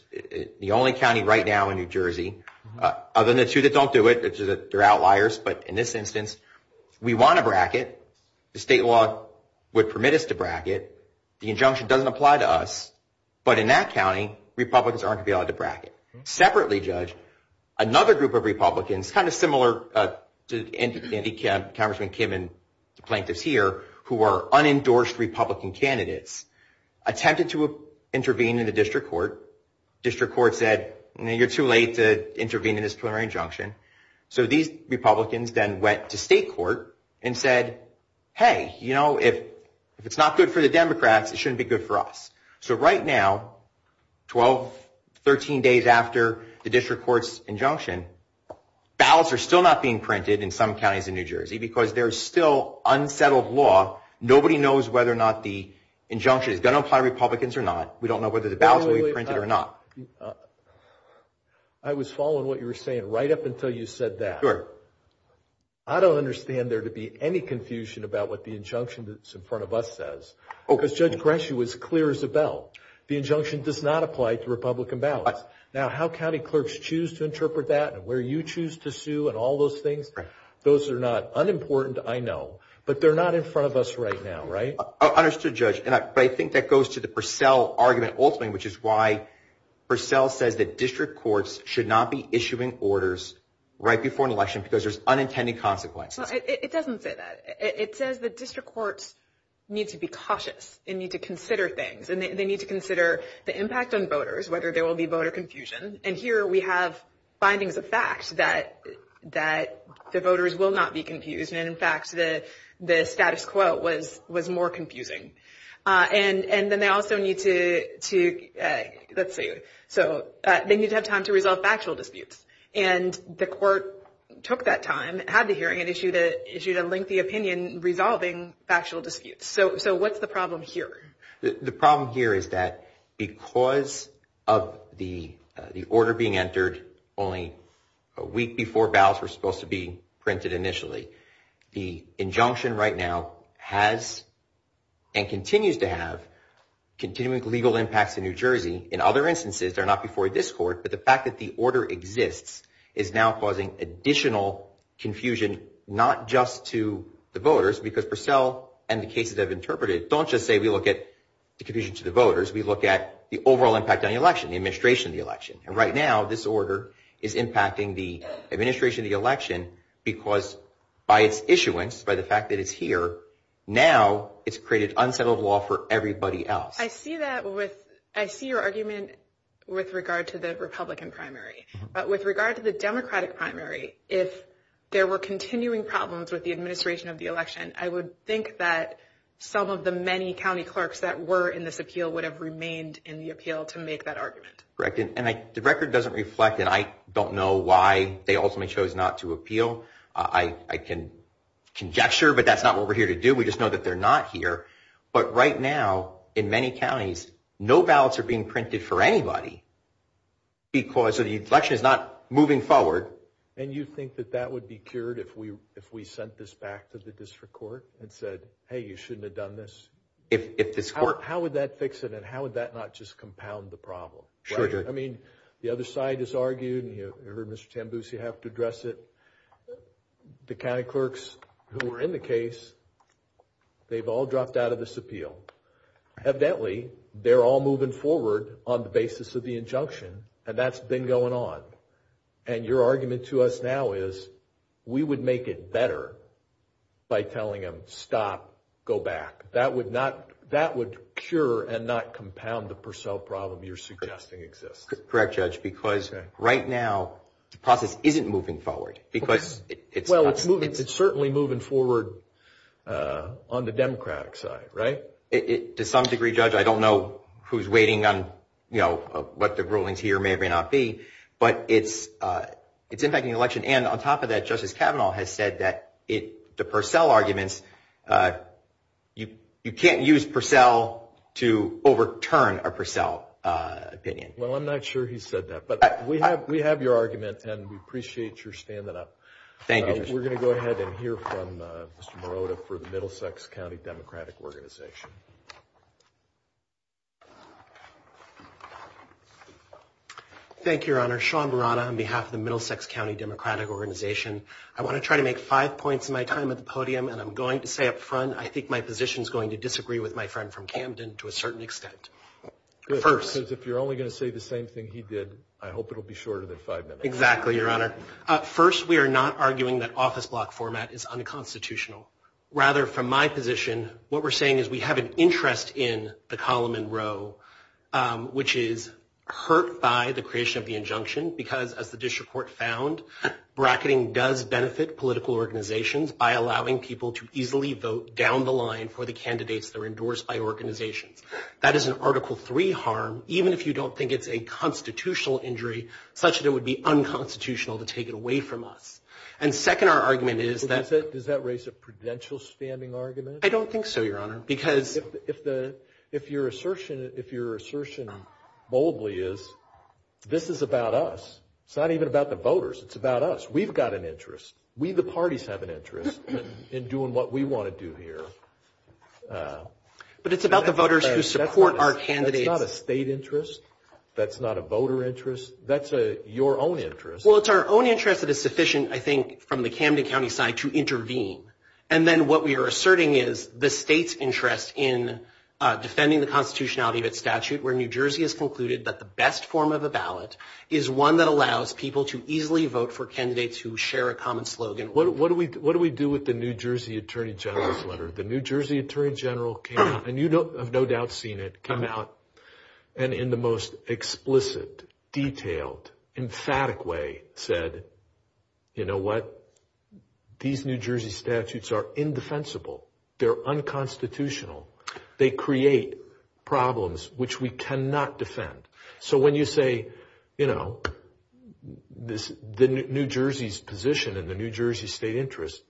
the only county right now in New Jersey, other than the two that don't do it, which is that they're outliers, but in this instance, we want to bracket. The state law would permit us to bracket. The injunction doesn't apply to us. But in that county, Republicans aren't going to be able to bracket. So the district court, separately judged, another group of Republicans, kind of similar to Andy Kemp, Congressman Kim and plaintiffs here, who are unendorsed Republican candidates, attempted to intervene in the district court. District court said, no, you're too late to intervene in this plenary injunction. So these Republicans then went to state court and said, hey, you know, if it's not good for the Democrats, it shouldn't be good for us. So right now, 12, 13 days after the district court's injunction, ballots are still not being printed in some counties in New Jersey because there's still unsettled law. Nobody knows whether or not the injunction is going to apply to Republicans or not. We don't know whether the ballots will be printed or not. I was following what you were saying right up until you said that. Sure. I don't understand there to be any confusion about what the injunction that's in front of us says. Because Judge Gretchen was clear as a bell. The injunction does not apply to Republican ballots. Now, how county clerks choose to interpret that and where you choose to sue and all those things, those are not unimportant, I know. But they're not in front of us right now, right? Understood, Judge. But I think that goes to the Purcell argument, ultimately, which is why Purcell says that district courts should not be issuing orders right before an election because there's unintended consequences. It doesn't say that. It says that district courts need to be cautious and need to consider things. And they need to consider the impact on voters, whether there will be voter confusion. And here we have findings of facts that the voters will not be confused. And, in fact, the status quo was more confusing. And then they also need to – let's see. So they need to have time to resolve factual disputes. And the court took that time, had the hearing, and issued a lengthy opinion resolving factual disputes. So what's the problem here? The problem here is that because of the order being entered only a week before ballots were supposed to be printed initially, the injunction right now has and continues to have continuing legal impacts in New Jersey. In other instances, they're not before this court, but the fact that the order exists is now causing additional confusion not just to the voters because Purcell and the cases I've interpreted don't just say we look at the confusion to the voters. We look at the overall impact on the election, the administration of the election. And right now this order is impacting the administration of the election because by its issuance, by the fact that it's here, now it's created unsettled law for everybody else. I see that with – I see your argument with regard to the Republican primary. But with regard to the Democratic primary, if there were continuing problems with the administration of the election, I would think that some of the many county clerks that were in this appeal would have remained in the appeal to make that argument. Correct. And the record doesn't reflect it. I don't know why they ultimately chose not to appeal. I can gesture, but that's not what we're here to do. We just know that they're not here. But right now in many counties, no ballots are being printed for anybody because the election is not moving forward. And you think that that would be cured if we sent this back to the district court and said, hey, you shouldn't have done this? How would that fix it? And how would that not just compound the problem? Sure. I mean, the other side is arguing. You heard Mr. Tambucci have to address it. The county clerks who were in the case, they've all dropped out of this appeal. Evidently, they're all moving forward on the basis of the injunction, and that's been going on. And your argument to us now is we would make it better by telling them, stop, go back. That would cure and not compound the Purcell problem you're suggesting exists. Correct, Judge, because right now the process isn't moving forward. Well, it's certainly moving forward on the Democratic side, right? To some degree, Judge, I don't know who's waiting on what the rulings here may or may not be, but it's impacting the election. And on top of that, Justice Kavanaugh has said that the Purcell arguments, you can't use Purcell to overturn a Purcell opinion. Well, I'm not sure he said that, but we have your argument, and we appreciate your standing up. Thank you. We're going to go ahead and hear from Mr. Morota for the Middlesex County Democratic Organization. Thank you, Your Honor. Sean Burrata on behalf of the Middlesex County Democratic Organization. I want to try to make five points in my time at the podium, and I'm going to say up front, I think my position is going to disagree with my friend from Camden to a certain extent. Because if you're only going to say the same thing he did, I hope it'll be shorter than five minutes. Exactly, Your Honor. First, we are not arguing that office block format is unconstitutional. Rather, from my position, what we're saying is we have an interest in the column and row, which is hurt by the creation of the injunction because, as the district court found, bracketing does benefit political organizations by allowing people to easily vote down the line for the candidates that are endorsed by organizations. That is an Article III harm, even if you don't think it's a constitutional injury, such that it would be unconstitutional to take it away from us. And second, our argument is that – Does that raise a prudential standing argument? I don't think so, Your Honor, because – If your assertion boldly is this is about us, it's not even about the voters, it's about us. We've got an interest. We, the parties, have an interest in doing what we want to do here. But it's about the voters who support our candidates. That's not a state interest. That's not a voter interest. That's your own interest. Well, it's our own interest that is sufficient, I think, from the Camden County side to intervene. And then what we are asserting is the state's interest in defending the constitutionality of its statute, where New Jersey has concluded that the best form of a ballot is one that allows people to easily vote for candidates who share a common slogan. What do we do with the New Jersey Attorney General's letter? The New Jersey Attorney General, and you have no doubt seen it, came out and in the most explicit, detailed, emphatic way said, You know what? These New Jersey statutes are indefensible. They're unconstitutional. They create problems which we cannot defend. So when you say, you know, the New Jersey's position and the New Jersey state interest,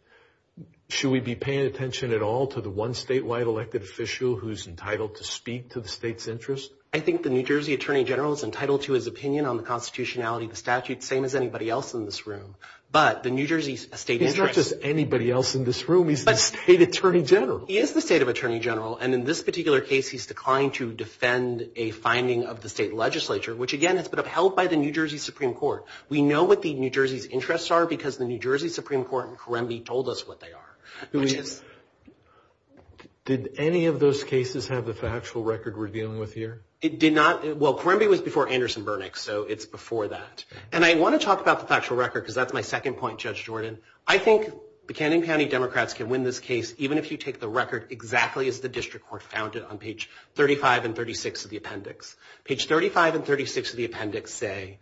should we be paying attention at all to the one statewide elected official who is entitled to speak to the state's interest? I think the New Jersey Attorney General is entitled to his opinion on the constitutionality of the statute, the same as anybody else in this room. But the New Jersey state interest... He's not just anybody else in this room. He's the state attorney general. He is the state attorney general. And in this particular case, he's declined to defend a finding of the state legislature, which, again, has been upheld by the New Jersey Supreme Court. We know what the New Jersey's interests are because the New Jersey Supreme Court and Karembi told us what they are. Did any of those cases have the factual record we're dealing with here? It did not. Well, Karembi was before Anderson-Burnett, so it's before that. And I want to talk about the factual record because that's my second point, Judge Jordan. I think the Camden County Democrats can win this case even if you take the record exactly as the district court found it on page 35 and 36 of the appendix. Page 35 and 36 of the appendix say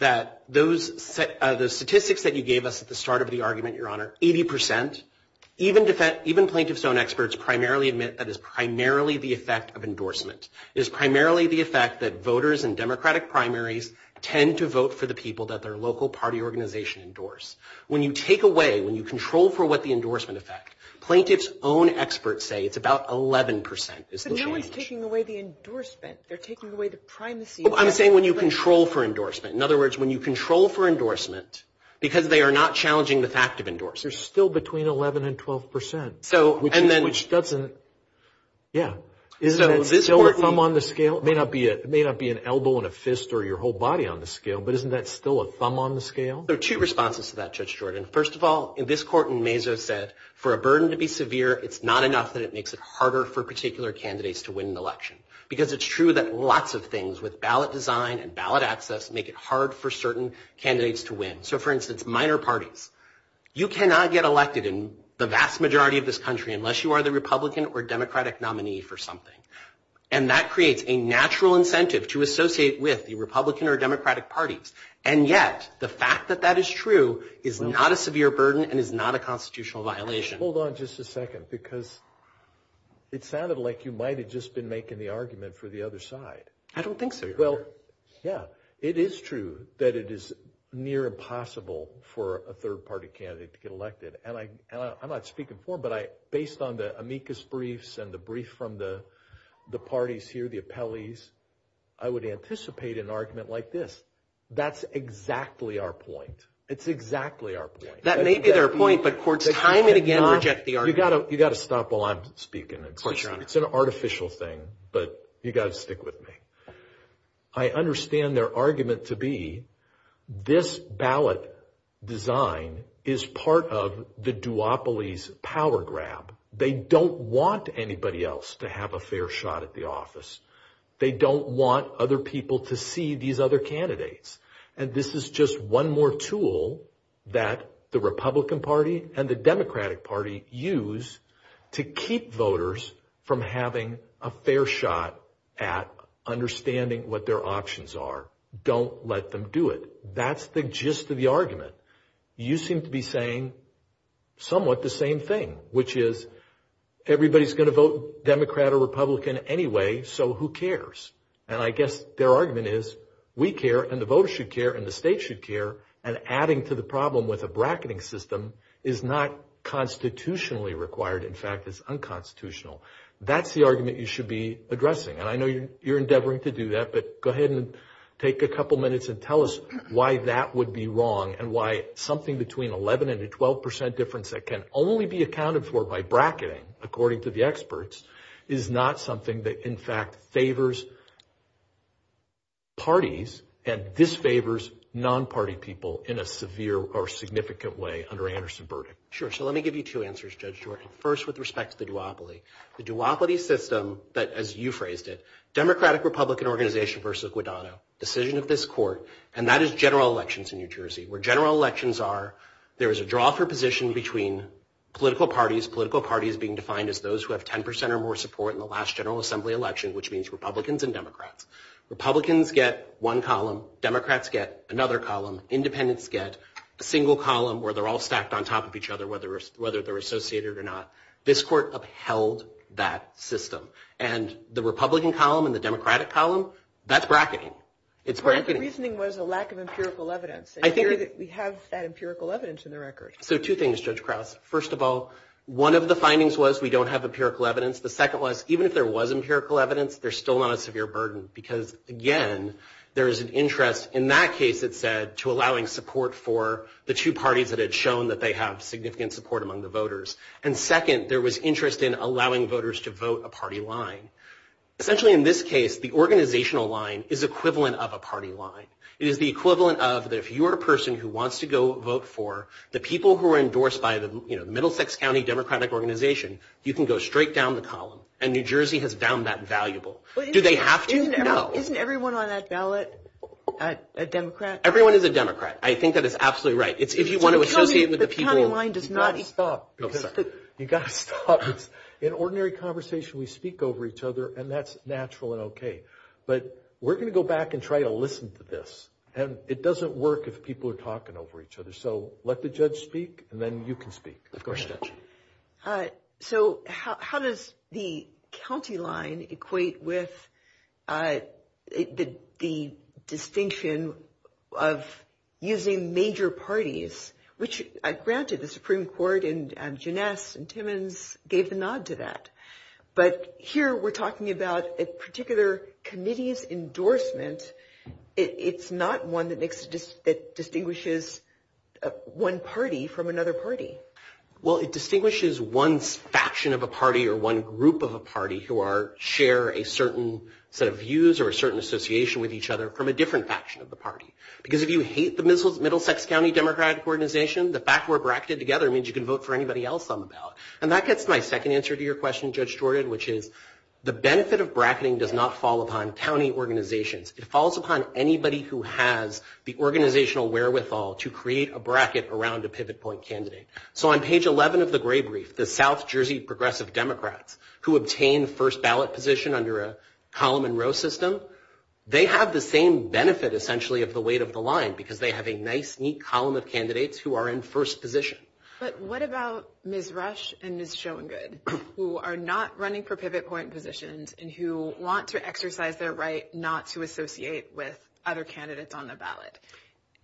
that those statistics that you gave us at the start of the argument, Your Honor, 80 percent, even plaintiff's own experts primarily admit that is primarily the effect of endorsement. It is primarily the effect that voters in Democratic primaries tend to vote for the people that their local party organization endorsed. When you take away, when you control for what the endorsement effect, plaintiff's own experts say it's about 11 percent. But no one's taking away the endorsement. They're taking away the primacy. I'm saying when you control for endorsement. In other words, when you control for endorsement because they are not challenging the fact of endorsement. There's still between 11 and 12 percent, which doesn't – yeah. Is that still a thumb on the scale? It may not be an elbow and a fist or your whole body on the scale, but isn't that still a thumb on the scale? Well, there are two responses to that, Judge Jordan. First of all, this court in Mesa said for a burden to be severe, it's not enough that it makes it harder for particular candidates to win an election because it's true that lots of things with ballot design and ballot access make it hard for certain candidates to win. So, for instance, minor parties. You cannot get elected in the vast majority of this country unless you are the Republican or Democratic nominee for something. And that creates a natural incentive to associate with the Republican or Democratic parties. And yet, the fact that that is true is not a severe burden and is not a constitutional violation. Hold on just a second because it sounded like you might have just been making the argument for the other side. I don't think so. Well, yeah, it is true that it is near impossible for a third-party candidate to get elected. And I'm not speaking for him, but based on the amicus briefs and the brief from the parties here, the appellees, I would anticipate an argument like this. That's exactly our point. It's exactly our point. That may be their point, but courts, time it again or reject the argument. You've got to stop while I'm speaking. It's an artificial thing, but you've got to stick with me. I understand their argument to be this ballot design is part of the duopoly's power grab. They don't want anybody else to have a fair shot at the office. They don't want other people to see these other candidates. And this is just one more tool that the Republican Party and the Democratic Party use to keep voters from having a fair shot at understanding what their options are. Don't let them do it. That's the gist of the argument. You seem to be saying somewhat the same thing, which is everybody's going to vote Democrat or Republican anyway, so who cares? And I guess their argument is we care and the voters should care and the state should care, and adding to the problem with a bracketing system is not constitutionally required. In fact, it's unconstitutional. That's the argument you should be addressing, and I know you're endeavoring to do that, but go ahead and take a couple minutes and tell us why that would be wrong and why something between 11% and a 12% difference that can only be accounted for by bracketing, according to the experts, is not something that, in fact, favors parties and disfavors non-party people in a severe or significant way under Anderson's verdict. Sure, so let me give you two answers, Judge George. First, with respect to the duopoly. The duopoly system that, as you phrased it, Democratic-Republican organization versus Guadagno, decision of this court, and that is general elections in New Jersey, where general elections are there is a draw for position between political parties, political parties being defined as those who have 10% or more support in the last General Assembly election, which means Republicans and Democrats. Republicans get one column. Democrats get another column. Independents get a single column where they're all stacked on top of each other, whether they're associated or not. This court upheld that system. And the Republican column and the Democratic column, that's bracketing. Part of the reasoning was a lack of empirical evidence. We have that empirical evidence in the record. So two things, Judge Krause. First of all, one of the findings was we don't have empirical evidence. The second was even if there was empirical evidence, there's still not a severe burden, because, again, there is an interest in that case, it said, to allowing support for the two parties that had shown that they have significant support among the voters. And second, there was interest in allowing voters to vote a party line. Essentially in this case, the organizational line is equivalent of a party line. It is the equivalent of that if you are a person who wants to go vote for the people who are endorsed by the, you know, Middlesex County Democratic Organization, you can go straight down the column. And New Jersey has done that valuable. Do they have to? No. Isn't everyone on that ballot a Democrat? Everyone is a Democrat. I think that is absolutely right. Tell me if the county line does not exist. You've got to stop. You've got to stop. In ordinary conversation, we speak over each other, and that's natural and okay. But we're going to go back and try to listen to this. And it doesn't work if people are talking over each other. So let the judge speak, and then you can speak. Of course, Judge. So how does the county line equate with the distinction of using major parties, which granted the Supreme Court and Jeunesse and Timmons gave the nod to that. But here we're talking about a particular committee's endorsement. It's not one that distinguishes one party from another party. Well, it distinguishes one faction of a party or one group of a party who share a certain set of views or a certain association with each other from a different faction of the party. Because if you hate the Middlesex County Democratic Organization, the fact we're bracketed together means you can vote for anybody else I'm about. And that gets my second answer to your question, Judge Jordan, which is the benefit of bracketing does not fall upon county organizations. It falls upon anybody who has the organizational wherewithal to create a bracket around a pivot point candidate. So on page 11 of the grade brief, the South Jersey Progressive Democrats who obtain first ballot position under a column and row system, they have the same benefit, essentially, of the weight of the line because they have a nice, neat column of candidates who are in first position. But what about Ms. Rush and Ms. Schoengood, who are not running for pivot point positions and who want to exercise their right not to associate with other candidates on their ballot?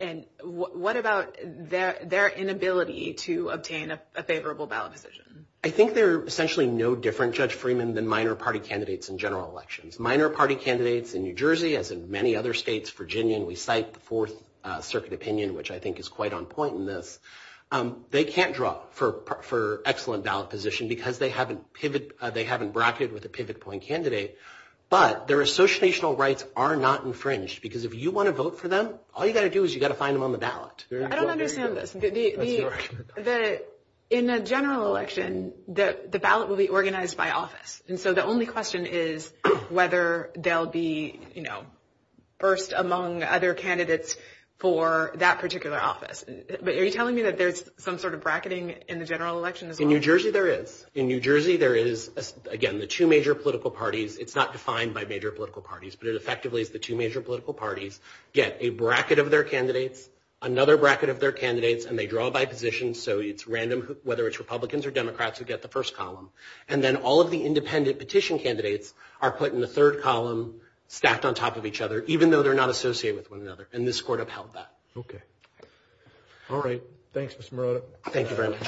And what about their inability to obtain a favorable ballot decision? I think they're essentially no different, Judge Freeman, than minor party candidates in general elections. Minor party candidates in New Jersey, as in many other states, Virginia, and we cite the Fourth Circuit opinion, which I think is quite on point in this, they can't draw for excellent ballot position because they haven't bracketed with a pivot point candidate. But their associational rights are not infringed because if you want to vote for them, all you've got to do is you've got to find them on the ballot. I don't understand this. In a general election, the ballot will be organized by office. And so the only question is whether they'll be, you know, first among other candidates for that particular office. But are you telling me that there's some sort of bracketing in the general election as well? In New Jersey, there is. In New Jersey, there is, again, the two major political parties. It's not defined by major political parties, but it effectively is the two major political parties get a bracket of their candidates, another bracket of their candidates, and they draw by position. So it's random whether it's Republicans or Democrats who get the first column. And then all of the independent petition candidates are put in the third column, stacked on top of each other, even though they're not associated with one another. And this court upheld that. Okay. All right. Thanks, Mr. Marotta. Thank you very much.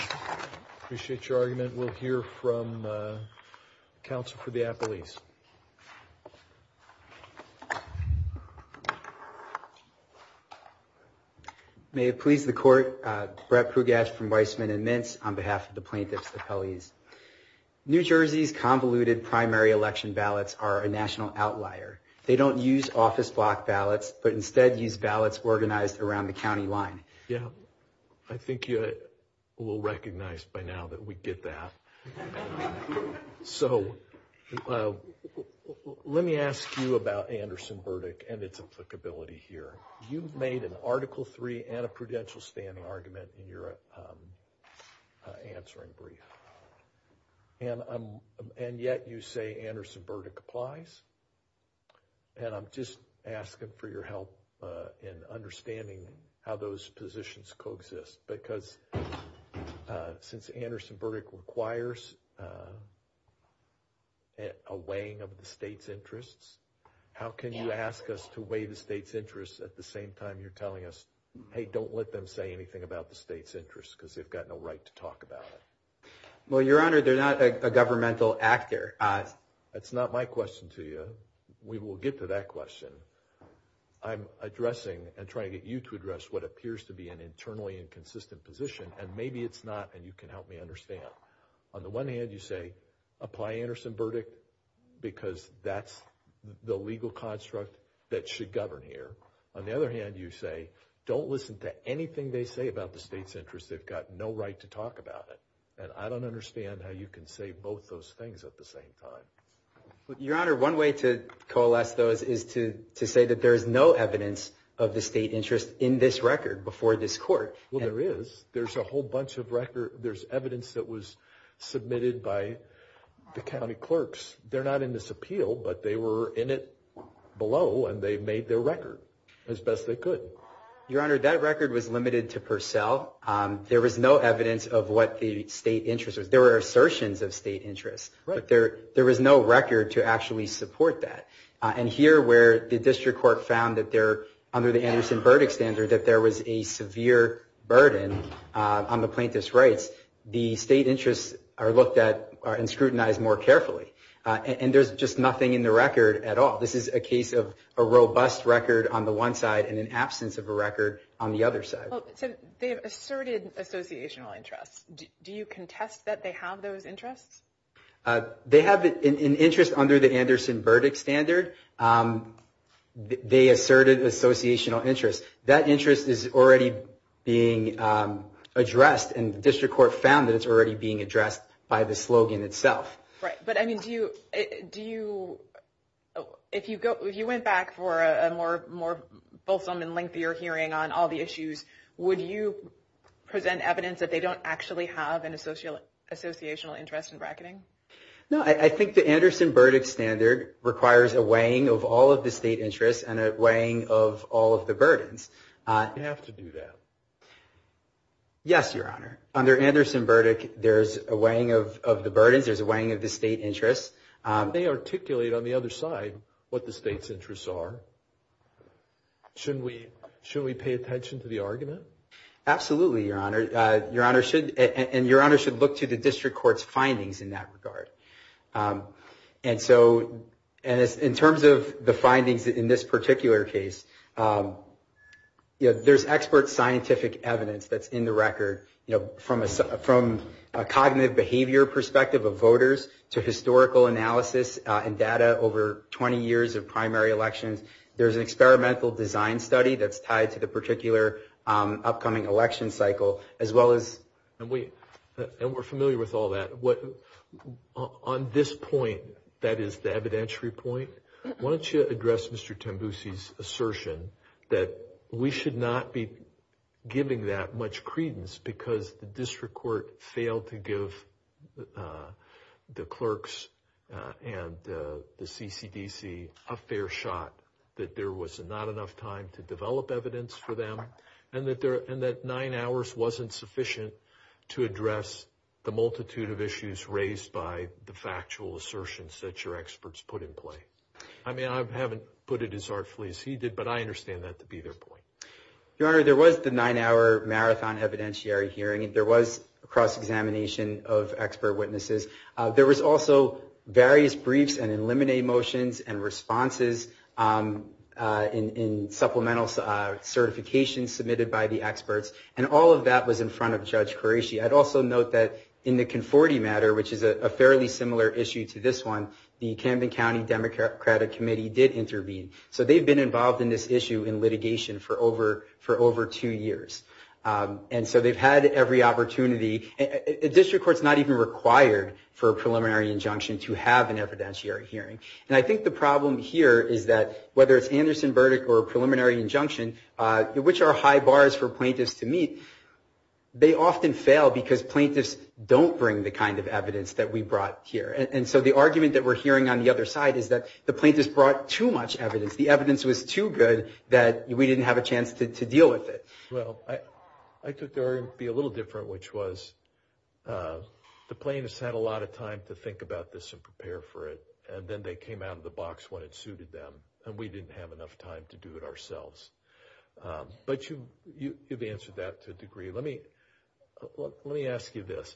Appreciate your argument. We'll hear from counsel for the athletes. May it please the court, Brett Pugash from Weissman and Mint on behalf of the plaintiffs' appellees. New Jersey's convoluted primary election ballots are a national outlier. They don't use office block ballots, but instead use ballots organized around the county line. Yeah. I think you will recognize by now that we get that. So let me ask you about Anderson-Burdick and its applicability here. You've made an Article III and a prudential standing argument in your answering brief. And yet you say Anderson-Burdick applies. And I'm just asking for your help in understanding how those positions coexist. Because since Anderson-Burdick requires a weighing of the state's interests, how can you ask us to weigh the state's interests at the same time you're telling us, hey, don't let them say anything about the state's interests because they've got no right to talk about it? Well, Your Honor, they're not a governmental actor. That's not my question to you. We will get to that question. I'm addressing and trying to get you to address what appears to be an internally inconsistent position, and maybe it's not, and you can help me understand. On the one hand, you say apply Anderson-Burdick because that's the legal construct that should govern here. On the other hand, you say don't listen to anything they say about the state's interests. They've got no right to talk about it. And I don't understand how you can say both those things at the same time. Your Honor, one way to coalesce those is to say that there is no evidence of the state interest in this record before this court. Well, there is. There's a whole bunch of record. There's evidence that was submitted by the county clerks. They're not in this appeal, but they were in it below, and they made their record as best they could. Your Honor, that record was limited to Purcell. There was no evidence of what the state interest was. There were assertions of state interest, but there was no record to actually support that. And here, where the district court found that there, under the Anderson-Burdick standard, that there was a severe burden on the plaintiff's rights, the state interests are scrutinized more carefully. And there's just nothing in the record at all. This is a case of a robust record on the one side and an absence of a record on the other side. Do you contest that they have those interests? They have an interest under the Anderson-Burdick standard. They asserted associational interests. That interest is already being addressed, and the district court found that it's already being addressed by the slogan itself. Right, but, I mean, do you... If you went back for a more fulfillment and lengthier hearing on all the issues, would you present evidence that they don't actually have an associational interest in bracketing? No, I think the Anderson-Burdick standard requires a weighing of all of the state interests and a weighing of all of the burdens. They have to do that. Yes, Your Honor. Under Anderson-Burdick, there's a weighing of the burdens, there's a weighing of the state interests. They articulate on the other side what the state's interests are. Should we pay attention to the argument? Absolutely, Your Honor. And Your Honor should look to the district court's findings in that regard. And so, in terms of the findings in this particular case, there's expert scientific evidence that's in the record from a cognitive behavior perspective of voters to historical analysis and data over 20 years of primary elections. There's an experimental design study that's tied to the particular upcoming election cycle as well as... And we're familiar with all that. On this point, that is the evidentiary point, why don't you address Mr. Tambusi's assertion that we should not be giving that much credence because the district court failed to give the clerks and the CCDC a fair shot, that there was not enough time to develop evidence for them, and that nine hours wasn't sufficient to address the multitude of issues raised by the factual assertions that your experts put in play. I mean, I haven't put it as artfully as he did, but I understand that to be their point. Your Honor, there was the nine-hour marathon evidentiary hearing. There was a cross-examination of expert witnesses. There was also various briefs and eliminate motions and responses in supplemental certifications submitted by the experts. And all of that was in front of Judge Horati. I'd also note that in the Conforti matter, which is a fairly similar issue to this one, the Camden County Democratic Committee did intervene. So they've been involved in this issue in litigation for over two years. And so they've had every opportunity. A district court's not even required for a preliminary injunction to have an evidentiary hearing. And I think the problem here is that, whether it's Anderson verdict or a preliminary injunction, which are high bars for plaintiffs to meet, they often fail because plaintiffs don't bring the kind of evidence that we brought here. And so the argument that we're hearing on the other side is that the plaintiffs brought too much evidence. The evidence was too good that we didn't have a chance to deal with it. Well, I took the argument to be a little different, which was the plaintiffs had a lot of time to think about this and prepare for it, and then they came out of the box when it suited them. And we didn't have enough time to do it ourselves. But you've answered that to a degree. Let me ask you this,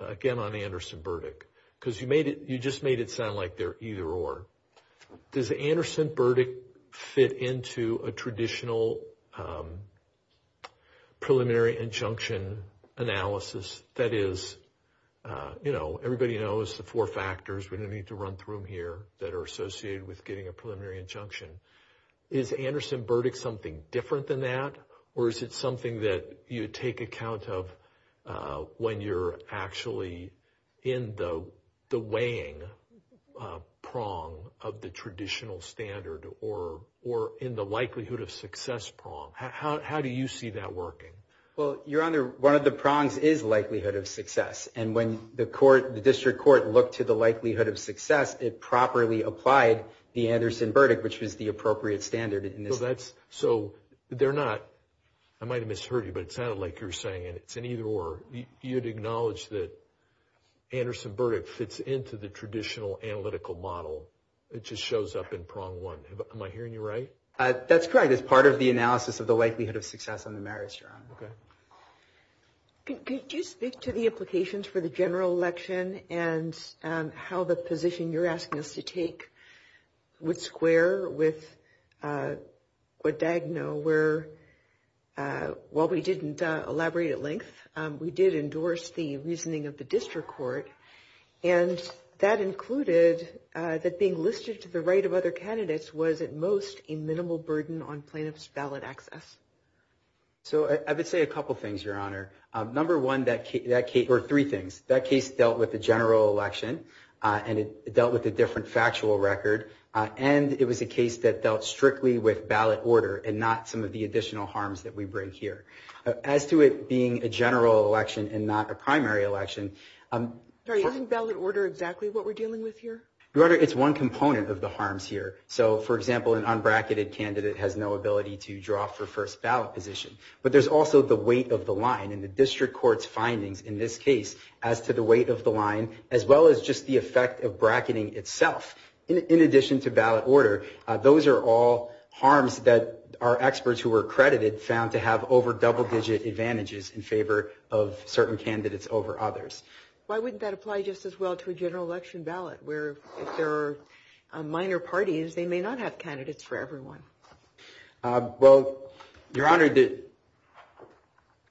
again, on Anderson verdict, because you just made it sound like they're either or. Does Anderson verdict fit into a traditional preliminary injunction analysis? That is, you know, everybody knows the four factors. We don't need to run through them here that are associated with getting a preliminary injunction. Is Anderson verdict something different than that, or is it something that you take account of when you're actually in the weighing prong of the traditional standard or in the likelihood of success prong? How do you see that working? Well, Your Honor, one of the prongs is likelihood of success. And when the court, the district court, looked to the likelihood of success, it properly applied the Anderson verdict, which was the appropriate standard. So they're not, I might have misheard you, but it sounded like you were saying it's an either or. You'd acknowledge that Anderson verdict fits into the traditional analytical model. It just shows up in prong one. Am I hearing you right? It's part of the analysis of the likelihood of success on the marriage, Your Honor. Could you speak to the implications for the general election and how the position you're asking us to take would square with Diagonal where, while we didn't elaborate at length, we did endorse the reasoning of the district court, and that included that being listed to the right of other candidates was at most a minimal burden on plaintiff's valid access. So I would say a couple things, Your Honor. Number one, or three things. That case dealt with the general election, and it dealt with a different factual record, and it was a case that dealt strictly with ballot order and not some of the additional harms that we bring here. As to it being a general election and not a primary election... Sorry, isn't ballot order exactly what we're dealing with here? Your Honor, it's one component of the harms here. So, for example, an unbracketed candidate has no ability to draw for first ballot position. But there's also the weight of the line, and the district court's findings in this case as to the weight of the line, as well as just the effect of bracketing itself. In addition to ballot order, those are all harms that our experts who were accredited found to have over double-digit advantages in favor of certain candidates over others. Why wouldn't that apply just as well to a general election ballot where if there are minor parties, they may not have candidates for everyone? Well, Your Honor,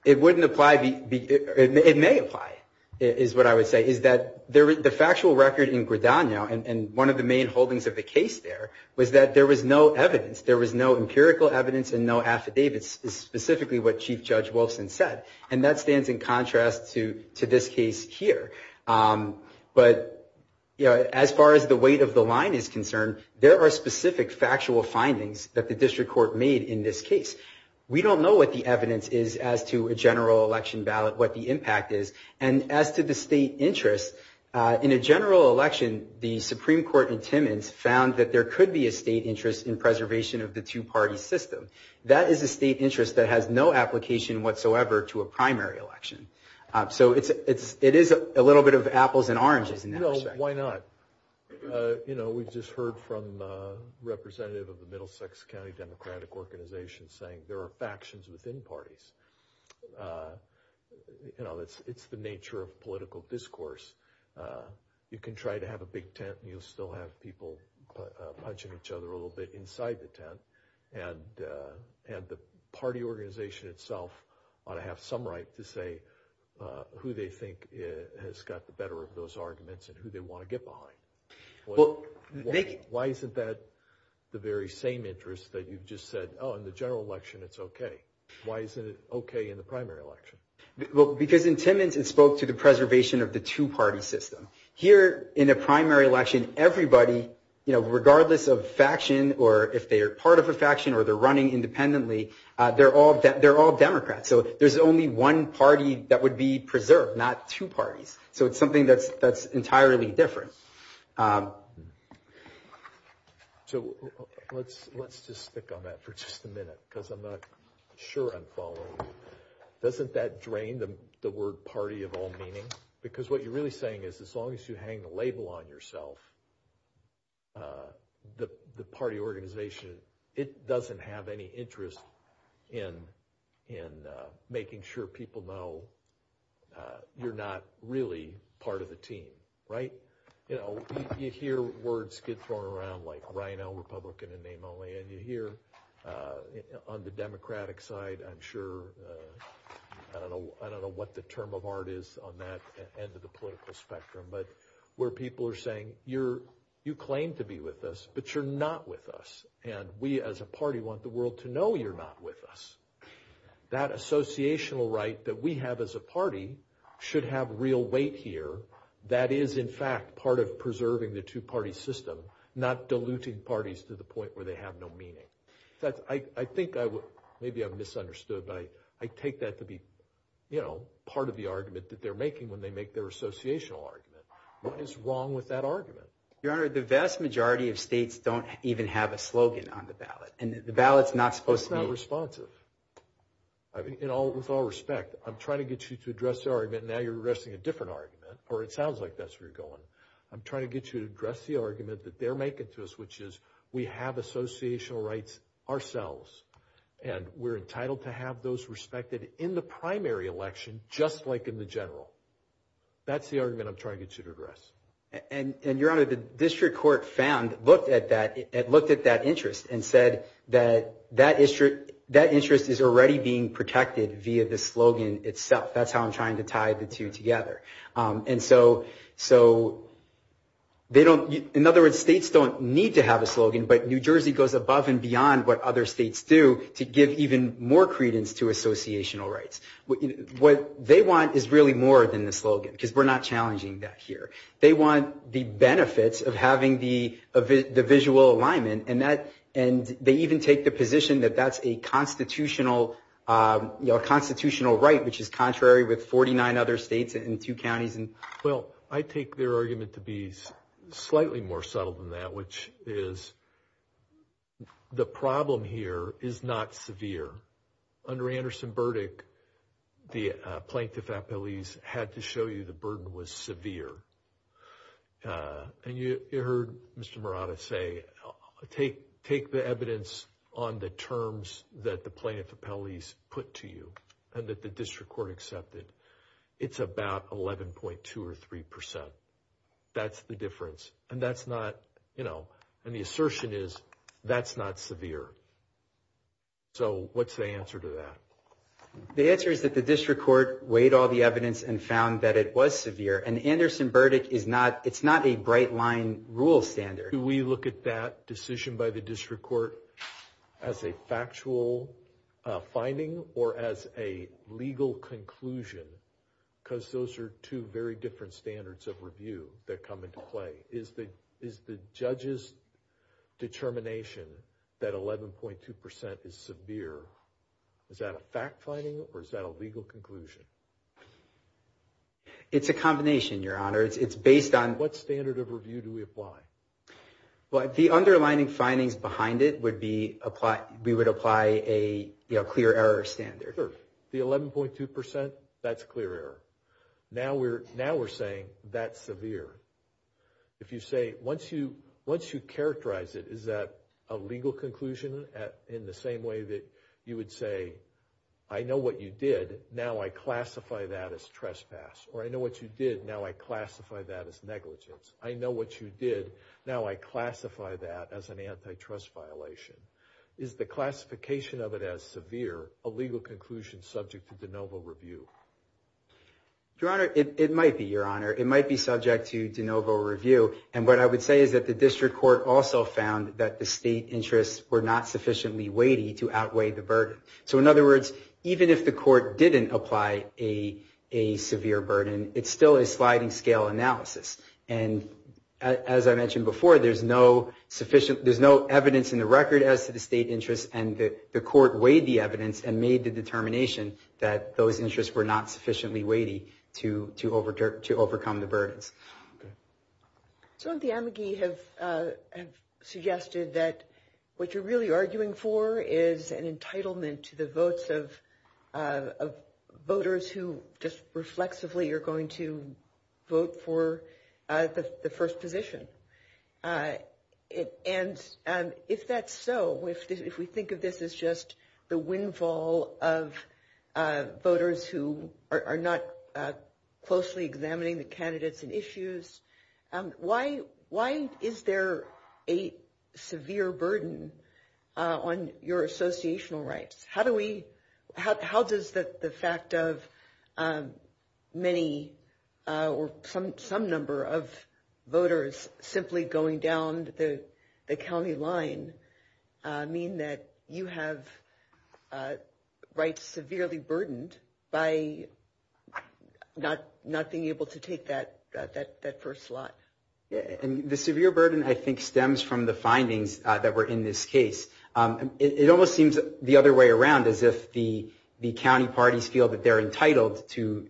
it wouldn't apply... It may apply, is what I would say, is that the factual record in Gridano, and one of the main holdings of the case there, was that there was no evidence. There was no empirical evidence and no affidavits, specifically what Chief Judge Wilson said. And that stands in contrast to this case here. But, you know, as far as the weight of the line is concerned, there are specific factual findings that the district court made in this case. We don't know what the evidence is as to a general election ballot, what the impact is. And as to the state interest, in a general election, the Supreme Court in Timmins found that there could be a state interest in preservation of the two-party system. That is a state interest that has no application whatsoever to a primary election. So it is a little bit of apples and oranges in that respect. No, why not? You know, we've just heard from a representative of the Middlesex County Democratic Organization saying there are factions within parties. You know, it's the nature of political discourse. You can try to have a big tent and you'll still have people punching each other a little bit inside the tent. And the party organization itself ought to have some right to say who they think has got the better of those arguments and who they want to get behind. Why isn't that the very same interest that you've just said, oh, in the general election, it's okay. Why isn't it okay in the primary election? Well, because in Timmins, it spoke to the preservation of the two-party system. Here in a primary election, everybody, you know, regardless of faction or if they're part of a faction or they're running independently, they're all Democrats. So there's only one party that would be preserved, not two parties. So it's something that's entirely different. So let's just stick on that for just a minute because I'm not sure I'm following. Doesn't that drain the word party of all meaning? Because what you're really saying is as long as you hang the label on yourself, the party organization, it doesn't have any interest in making sure people know that you're not really part of the team, right? You know, you hear words get thrown around like rhino, Republican, and name only, and you hear on the Democratic side, I'm sure, I don't know what the term of art is on that end of the political spectrum, but where people are saying, you claim to be with us, but you're not with us. And we as a party want the world to know you're not with us. That associational right that we have as a party should have real weight here. That is, in fact, part of preserving the two-party system, not diluting parties to the point where they have no meaning. In fact, I think maybe I've misunderstood, but I take that to be part of the argument that they're making when they make their associational argument. What is wrong with that argument? Your Honor, the vast majority of states don't even have a slogan on the ballot, and the ballot's not supposed to- It's not responsive. With all respect, I'm trying to get you to address the argument, and now you're addressing a different argument, or it sounds like that's where you're going. I'm trying to get you to address the argument that they're making to us, which is we have associational rights ourselves, and we're entitled to have those respected in the primary election, just like in the general. That's the argument I'm trying to get you to address. And, Your Honor, the district court found, looked at that, it looked at that interest and said that that interest is already being protected via the slogan itself. That's how I'm trying to tie the two together. In other words, states don't need to have a slogan, but New Jersey goes above and beyond what other states do to give even more credence to associational rights. What they want is really more than the slogan, because we're not challenging that here. They want the benefits of having the visual alignment, and they even take the position that that's a constitutional right, which is contrary with 49 other states and two counties. Well, I take their argument to be slightly more subtle than that, which is the problem here is not severe. Under Anderson Burdick, the plaintiff at Belize had to show you the burden was severe. And you heard Mr. Morata say take the evidence on the terms that the plaintiff at Belize put to you and that the district court accepted. It's about 11.2 or 3%. That's the difference. And that's not, you know, and the assertion is that's not severe. So what's the answer to that? The answer is that the district court weighed all the evidence and found that it was severe. And Anderson Burdick is not, it's not a bright line rule standard. Do we look at that decision by the district court as a factual finding or as a legal conclusion? Because those are two very different standards of review that come into play. Is the judge's determination that 11.2% is severe, is that a fact finding or is that a legal conclusion? It's a combination, Your Honor. It's based on... What standard of review do we apply? Well, the underlying findings behind it would be we would apply a clear error standard. Sure. The 11.2%, that's clear error. Now we're saying that's severe. If you say, once you characterize it, is that a legal conclusion in the same way that you would say, I know what you did, now I classify that as trespass. Or I know what you did, now I classify that as negligence. I know what you did, now I classify that as an antitrust violation. Is the classification of it as severe, a legal conclusion subject to de novo review? Your Honor, it might be, Your Honor. It might be subject to de novo review. And what I would say is that the district court also found that the state interests were not sufficiently weighty to outweigh the burden. So in other words, even if the court didn't apply a severe burden, it's still a sliding scale analysis. And as I mentioned before, there's no evidence in the record as to the state interests, and the court weighed the evidence and made the determination that those interests were not sufficiently weighty to overcome the burden. So the amici have suggested that what you're really arguing for is an entitlement to the votes of voters who just reflexively are going to vote for the first position. And if that's so, if we think of this as just the windfall of voters who are not closely examining the candidates and issues, why is there a severe burden on your associational rights? How does the fact of many or some number of voters simply going down the county line mean that you have rights severely burdened by not being able to take that first slot? The severe burden, I think, stems from the findings that were in this case. It almost seems the other way around, as if the county parties feel that they're entitled to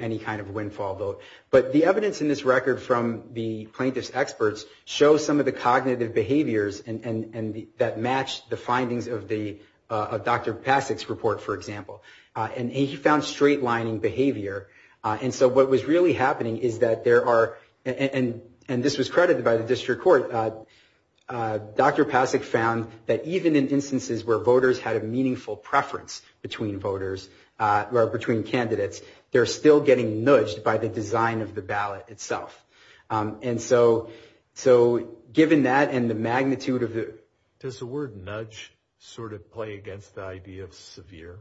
any kind of windfall vote. But the evidence in this record from the plaintiff's experts shows some of the cognitive behaviors that match the findings of Dr. Passick's report, for example. And he found straight-lining behavior. And so what was really happening is that there are, and this was credited by the district court, Dr. Passick found that even in instances where voters had a meaningful preference between voters or between candidates, they're still getting nudged by the design of the ballot itself. And so given that and the magnitude of the... Does the word nudge sort of play against the idea of severe?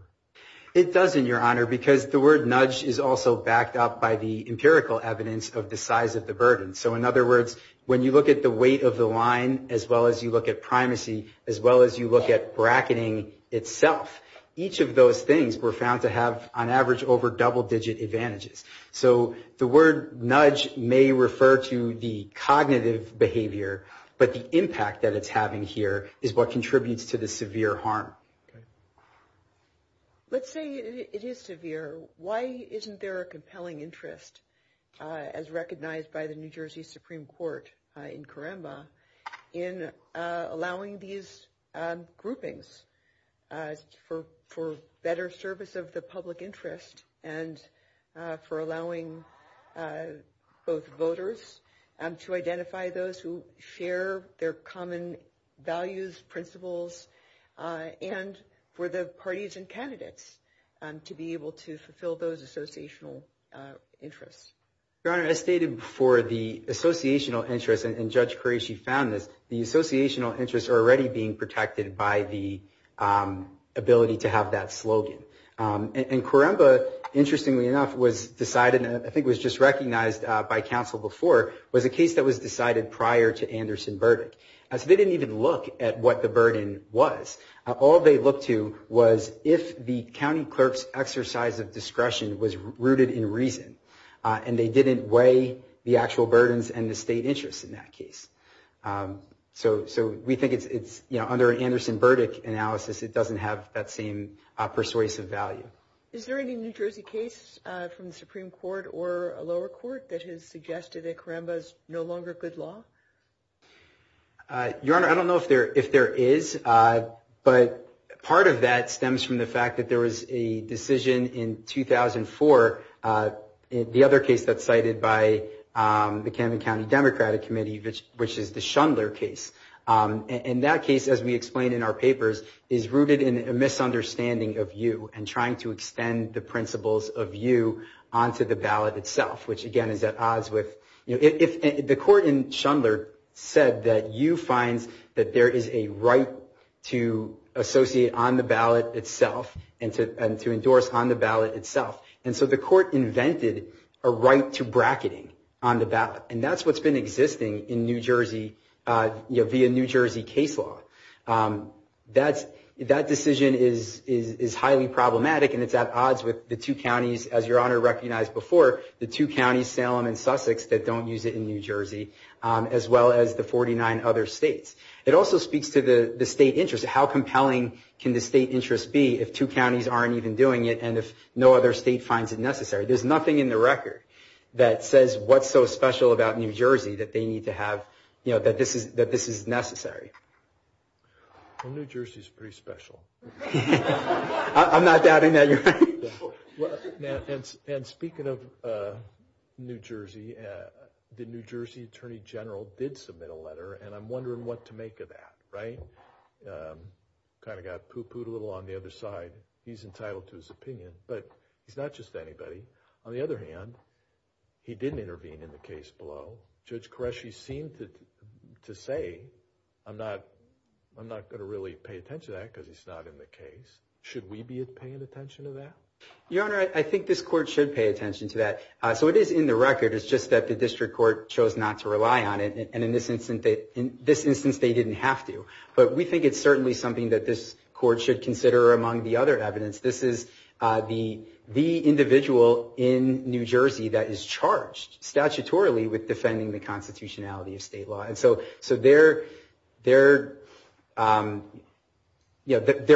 It doesn't, Your Honor, because the word nudge is also backed up by the empirical evidence of the size of the burden. So in other words, when you look at the weight of the line, as well as you look at primacy, as well as you look at bracketing itself, each of those things were found to have, on average, over double-digit advantages. So the word nudge may refer to the cognitive behavior, but the impact that it's having here is what contributes to the severe harm. Let's say it is severe. Why isn't there a compelling interest, as recognized by the New Jersey Supreme Court in Coremba, in allowing these groupings for better service of the public interest and for allowing both voters to identify those who share their common values, principles, and for the parties and candidates to be able to fulfill those associational interests? Your Honor, as stated before, the associational interests, and Judge Qureshi found this, the associational interests are already being protected by the ability to have that slogan. And Coremba, interestingly enough, was decided, and I think it was just recognized by counsel before, was a case that was decided prior to Anderson's verdict. So they didn't even look at what the burden was. All they looked to was if the county clerk's exercise of discretion was rooted in reason, and they didn't weigh the actual burdens and the state interest in that case. So we think it's, under an Anderson verdict analysis, it doesn't have that same persuasive value. Is there any New Jersey case from the Supreme Court or a lower court that has suggested that Coremba is no longer good law? Your Honor, I don't know if there is, but part of that stems from the fact that there was a decision in 2004, the other case that's cited by the Camden County Democratic Committee, which is the Schindler case. And that case, as we explained in our papers, is rooted in a misunderstanding of you and trying to extend the principles of you onto the ballot itself, which again is at odds with, the court in Schindler said that you find that there is a right to associate on the ballot itself and to endorse on the ballot itself. And so the court invented a right to bracketing on the ballot, and that's what's been existing in New Jersey via New Jersey case law. That decision is highly problematic, and it's at odds with the two counties, as Your Honor recognized before, the two counties, Salem and Sussex, that don't use it in New Jersey, as well as the 49 other states. It also speaks to the state interest. How compelling can the state interest be if two counties aren't even doing it and if no other state finds it necessary? There's nothing in the record that says what's so special about New Jersey that they need to have, that this is necessary. Well, New Jersey's pretty special. I'm not doubting that, Your Honor. And speaking of New Jersey, the New Jersey attorney general did submit a letter, and I'm wondering what to make of that, right? Kind of got poo-pooed a little on the other side. He's entitled to his opinion, but he's not just anybody. On the other hand, he didn't intervene in the case below. Judge Qureshi seemed to say, I'm not going to really pay attention to that because he's not in the case. Should we be paying attention to that? Your Honor, I think this court should pay attention to that. So it is in the record. It's just that the district court chose not to rely on it, and in this instance, they didn't have to. But we think it's certainly something that this court should consider. Among the other evidence, this is the individual in New Jersey that is charged statutorily with defending the constitutionality of state law. And so their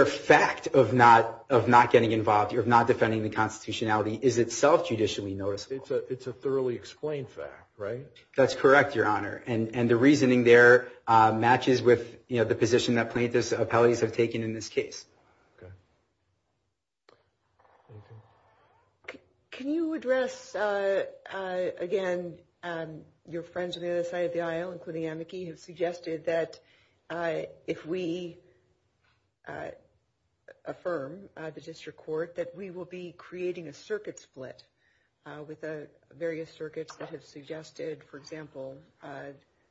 fact of not getting involved, of not defending the constitutionality, is itself judicially noticeable. It's a thoroughly explained fact, right? That's correct, Your Honor. And the reasoning there matches with the position that plaintiffs and appellees have taken in this case. Can you address, again, your friends on the other side of the aisle, including Amici, who suggested that if we affirm, the district court, that we will be creating a circuit split with various circuits that have suggested, for example,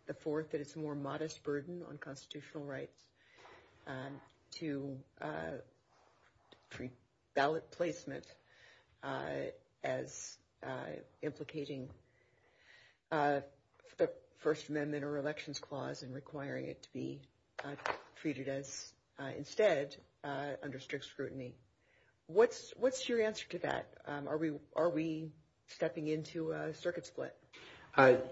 the court that it's a more modest burden on constitutional rights to treat ballot placement as implicating the First Amendment or elections clause and requiring it to be treated as, instead, under strict scrutiny. What's your answer to that? Are we stepping into a circuit split?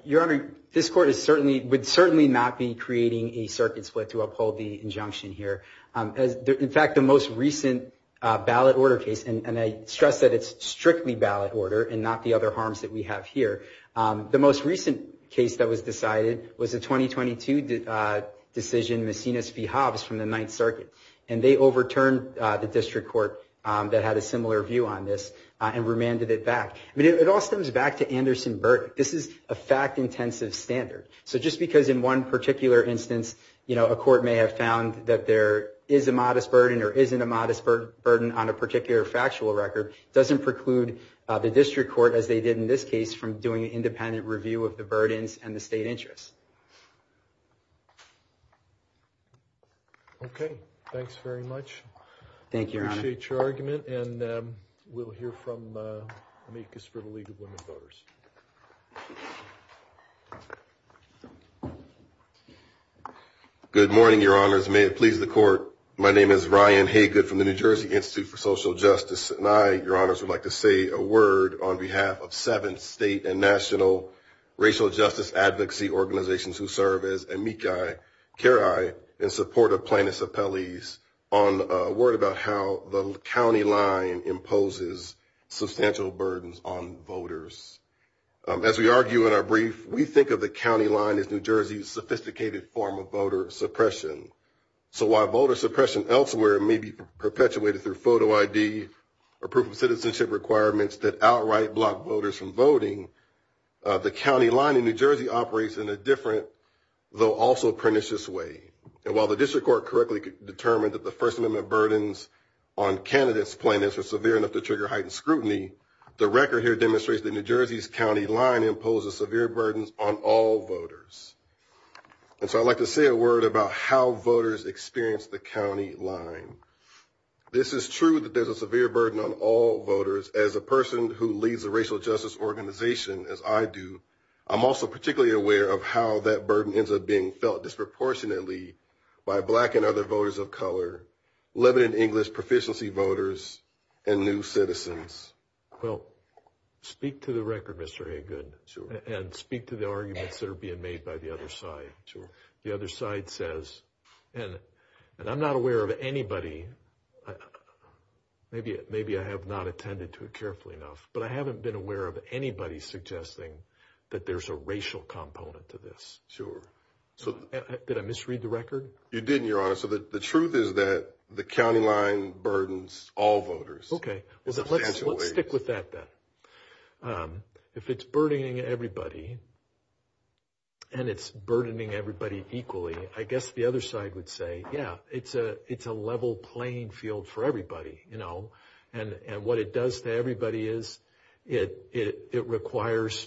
Your Honor, this court would certainly not be creating a circuit split to uphold the injunction here. In fact, the most recent ballot order case, and I stress that it's strictly ballot order and not the other harms that we have here, the most recent case that was decided was the 2022 decision, Messina v. Hobbs from the Ninth Circuit, and they overturned the district court that had a similar view on this and remanded it back. It all stems back to Anderson-Burk. This is a fact-intensive standard. Just because in one particular instance a court may have found that there is a modest burden or isn't a modest burden on a particular factual record doesn't preclude the district court, as they did in this case, from doing an independent review of the burdens and the state interests. Okay. Thanks very much. Thank you, Your Honor. I appreciate your argument, and we'll hear from Mekus for the League of Women Voters. Good morning, Your Honors. May it please the court, my name is Ryan Hagood from the New Jersey Institute for Social Justice, and I, Your Honors, would like to say a word on behalf of seven state and national racial justice advocacy organizations who serve as amici cari in support of plaintiffs' appellees on a word about how the county line imposes substantial burdens on voters. As we argue in our brief, we think of the county line as New Jersey's sophisticated form of voter suppression. So while voter suppression elsewhere may be perpetuated through photo ID, or proof of citizenship requirements that outright block voters from voting, the county line in New Jersey operates in a different, though also pernicious way. And while the district court correctly determined that the First Amendment burdens on candidates' plaintiffs were severe enough to trigger heightened scrutiny, the record here demonstrates that New Jersey's county line imposes severe burdens on all voters. And so I'd like to say a word about how voters experience the county line. This is true that there's a severe burden on all voters. As a person who leads a racial justice organization, as I do, I'm also particularly aware of how that burden ends up being felt disproportionately by black and other voters of color, limited English proficiency voters, and new citizens. Well, speak to the record, Mr. Haygood, and speak to the arguments that are being made by the other side. The other side says, and I'm not aware of anybody, maybe I have not attended to it carefully enough, but I haven't been aware of anybody suggesting that there's a racial component to this. Sure. Did I misread the record? You didn't, Your Honor. So the truth is that the county line burdens all voters. Okay. Let's stick with that then. If it's burdening everybody, and it's burdening everybody equally, I guess the other side would say, yeah, it's a level playing field for everybody, you know. And what it does to everybody is it requires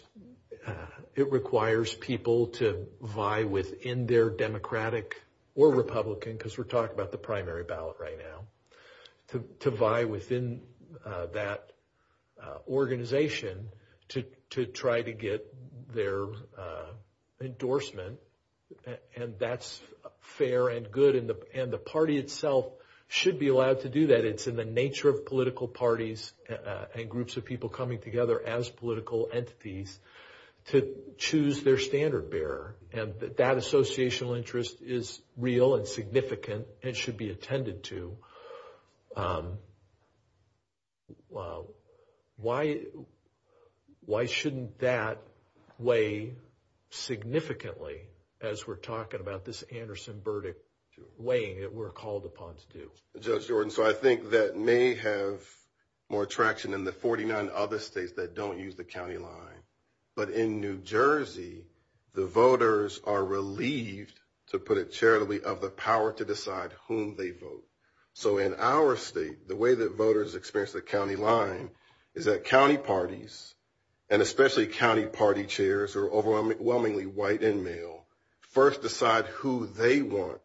people to vie within their Democratic or Republican, because we're talking about the primary ballot right now, to vie within that organization to try to get their endorsement. And that's fair and good, and the party itself should be allowed to do that. It's in the nature of political parties and groups of people coming together as political entities to choose their standard bearer, and that that associational interest is real and significant and should be attended to. Why shouldn't that weigh significantly, as we're talking about this Anderson verdict, weighing it we're called upon to do? Judge Jordan, so I think that may have more traction than the 49 other states that don't use the county line. But in New Jersey, the voters are relieved, to put it charitably, of the power to decide whom they vote. So in our state, the way that voters express the county line is that county parties, and especially county party chairs who are overwhelmingly white and male, first decide who they want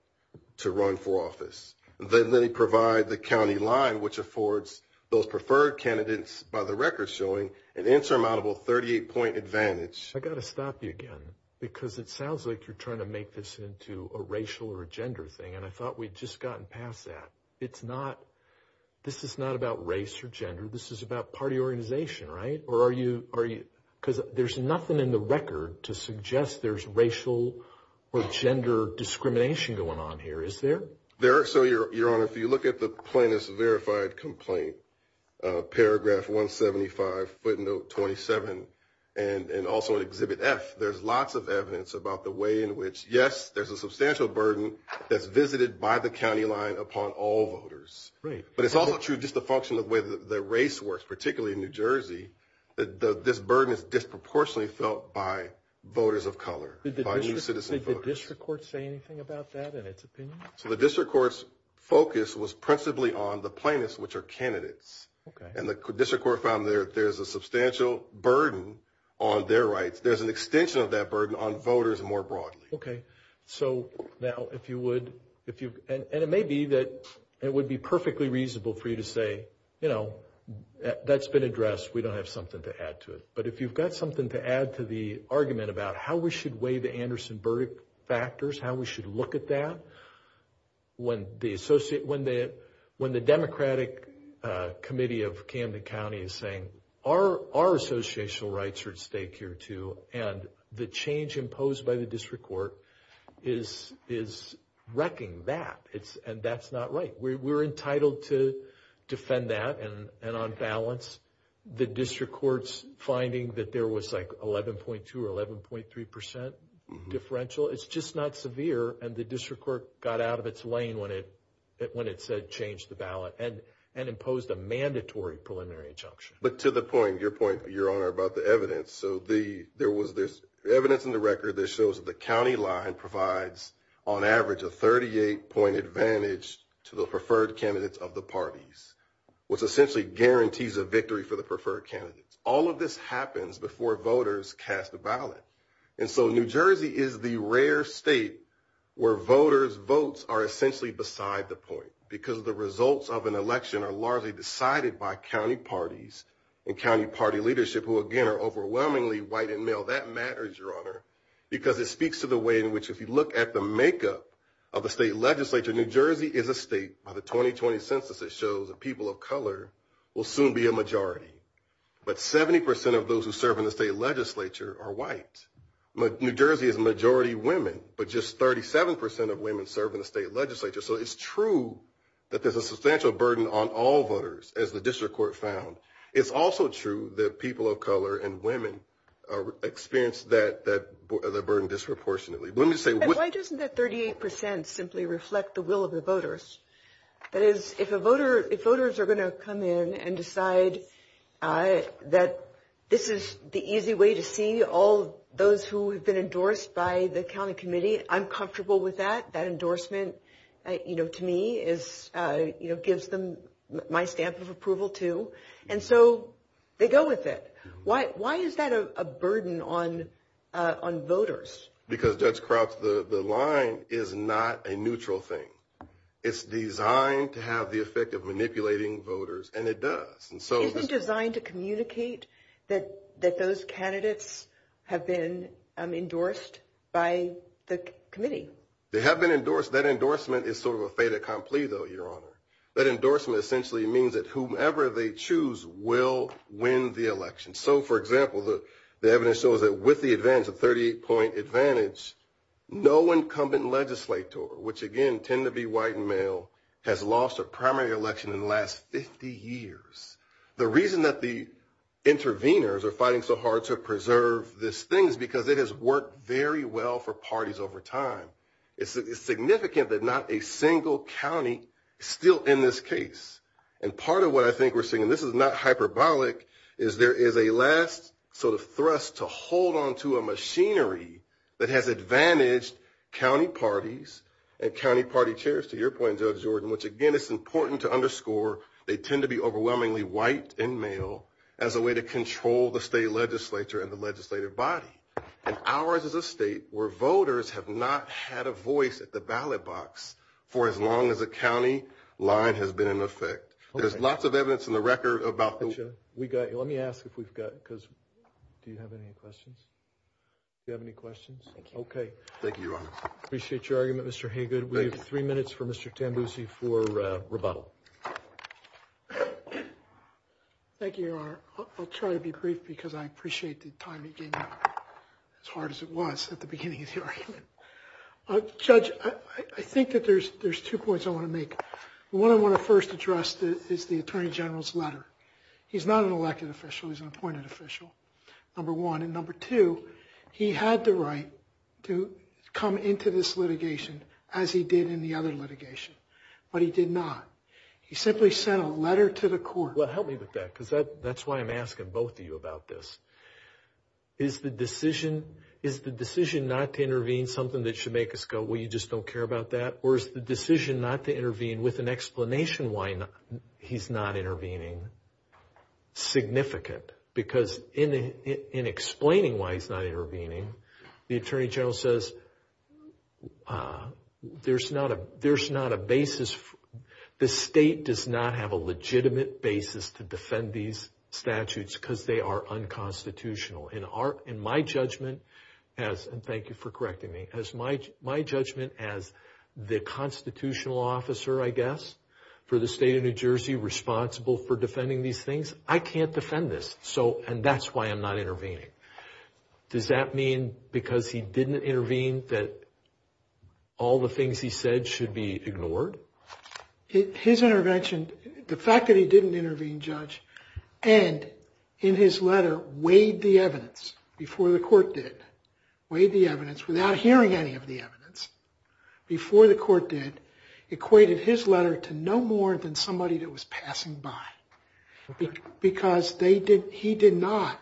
to run for office. Then they provide the county line, which affords those preferred candidates by the record showing an insurmountable 38-point advantage. I've got to stop you again, because it sounds like you're trying to make this into a racial or a gender thing, and I thought we'd just gotten past that. This is not about race or gender. This is about party organization, right? Because there's nothing in the record to suggest there's racial or gender discrimination going on here, is there? So, Your Honor, if you look at the Plaintiff's Verified Complaint, paragraph 175, footnote 27, and also in Exhibit F, there's lots of evidence about the way in which, yes, there's a substantial burden that's visited by the county line upon all voters. But it's also true, just a function of the way the race works, particularly in New Jersey, that this burden is disproportionately felt by voters of color, by new citizen voters. Did the district court say anything about that in its opinion? So the district court's focus was principally on the plaintiffs, which are candidates. Okay. And the district court found there's a substantial burden on their rights. There's an extension of that burden on voters more broadly. Okay. So, now, if you would... And it may be that it would be perfectly reasonable for you to say, you know, that's been addressed, we don't have something to add to it. But if you've got something to add to the argument about how we should weigh the Anderson-Burdick factors, how we should look at that, when the Democratic Committee of Camden County is saying, our associational rights are at stake here, too, and the change imposed by the district court is wrecking that, and that's not right. We're entitled to defend that, and on balance, the district court's finding that there was, like, 11.2% or 11.3% differential, it's just not severe, and the district court got out of its lane when it said change the ballot and imposed a mandatory preliminary injunction. But to the point, your point, Your Honor, about the evidence, so there was this evidence in the record that shows the county line provides, on average, a 38-point advantage to the preferred candidates of the parties, for the preferred candidates. All of this happens before voters cast the ballot. And so New Jersey is the rare state where voters' votes are essentially beside the point because the results of an election are largely decided by county parties and county party leadership, who, again, are overwhelmingly white and male. That matters, Your Honor, because it speaks to the way in which, if you look at the makeup of the state legislature, New Jersey is a state, by the 2020 Census, that shows that people of color will soon be a majority, but 70% of those who serve in the state legislature are white. New Jersey is a majority of women, but just 37% of women serve in the state legislature. So it's true that there's a substantial burden on all voters, as the district court found. It's also true that people of color and women experience that burden disproportionately. Let me say... And why doesn't that 38% simply reflect the will of the voters? That is, if voters are going to come in and decide that this is the easy way to see all those who have been endorsed by the county committee, I'm comfortable with that. That endorsement, to me, gives them my stamp of approval, too. And so they go with it. Why is that a burden on voters? Because, Judge Crouch, the line is not a neutral thing. It's designed to have the effect of manipulating voters, and it does. Isn't it designed to communicate that those candidates have been endorsed by the committee? They have been endorsed. That endorsement is sort of a fait accompli, though, Your Honor. That endorsement essentially means that whomever they choose will win the election. So, for example, the evidence shows that with the advantage, the 38-point advantage, no incumbent legislator, which, again, tend to be white and male, has lost a primary election in the last 50 years. The reason that the interveners are fighting so hard to preserve this thing is because it has worked very well for parties over time. It's significant that not a single county is still in this case. And part of what I think we're seeing, and this is not hyperbolic, is there is a last sort of thrust to hold onto a machinery that has advantaged county parties and county party chairs, to your point, Judge Jordan, which, again, it's important to underscore, they tend to be overwhelmingly white and male as a way to control the state legislature and the legislative body. And ours is a state where voters have not had a voice at the ballot box for as long as a county line has been in effect. There's lots of evidence in the record about the... Let me ask if we've got, because... Do you have any questions? Do you have any questions? Okay. Thank you, Your Honor. Appreciate your argument, Mr. Haygood. We have three minutes for Mr. Tambusi for rebuttal. Thank you, Your Honor. I'll try to be brief because I appreciate the time you gave me, as hard as it was at the beginning of the argument. Judge, I think that there's two points I want to make. The one I want to first address is the Attorney General's letter. He's not an elected official, he's an appointed official, number one. And number two, he had the right to come into this litigation as he did in the other litigation, but he did not. He simply sent a letter to the court. Well, help me with that, because that's why I'm asking both of you about this. Is the decision not to intervene something that should make us go, well, you just don't care about that? Or is the decision not to intervene with an explanation why he's not intervening significant? Because in explaining why he's not intervening, the Attorney General says there's not a basis. The state does not have a legitimate basis to defend these statutes because they are unconstitutional. In my judgment, and thank you for correcting me, my judgment as the constitutional officer, I guess, for the state of New Jersey responsible for defending these things, I can't defend this. And that's why I'm not intervening. Does that mean because he didn't intervene that all the things he said should be ignored? His intervention, the fact that he didn't intervene, Judge, and in his letter weighed the evidence before the court did, weighed the evidence without hearing any of the evidence, before the court did, equated his letter to no more than somebody that was passing by. Because he did not.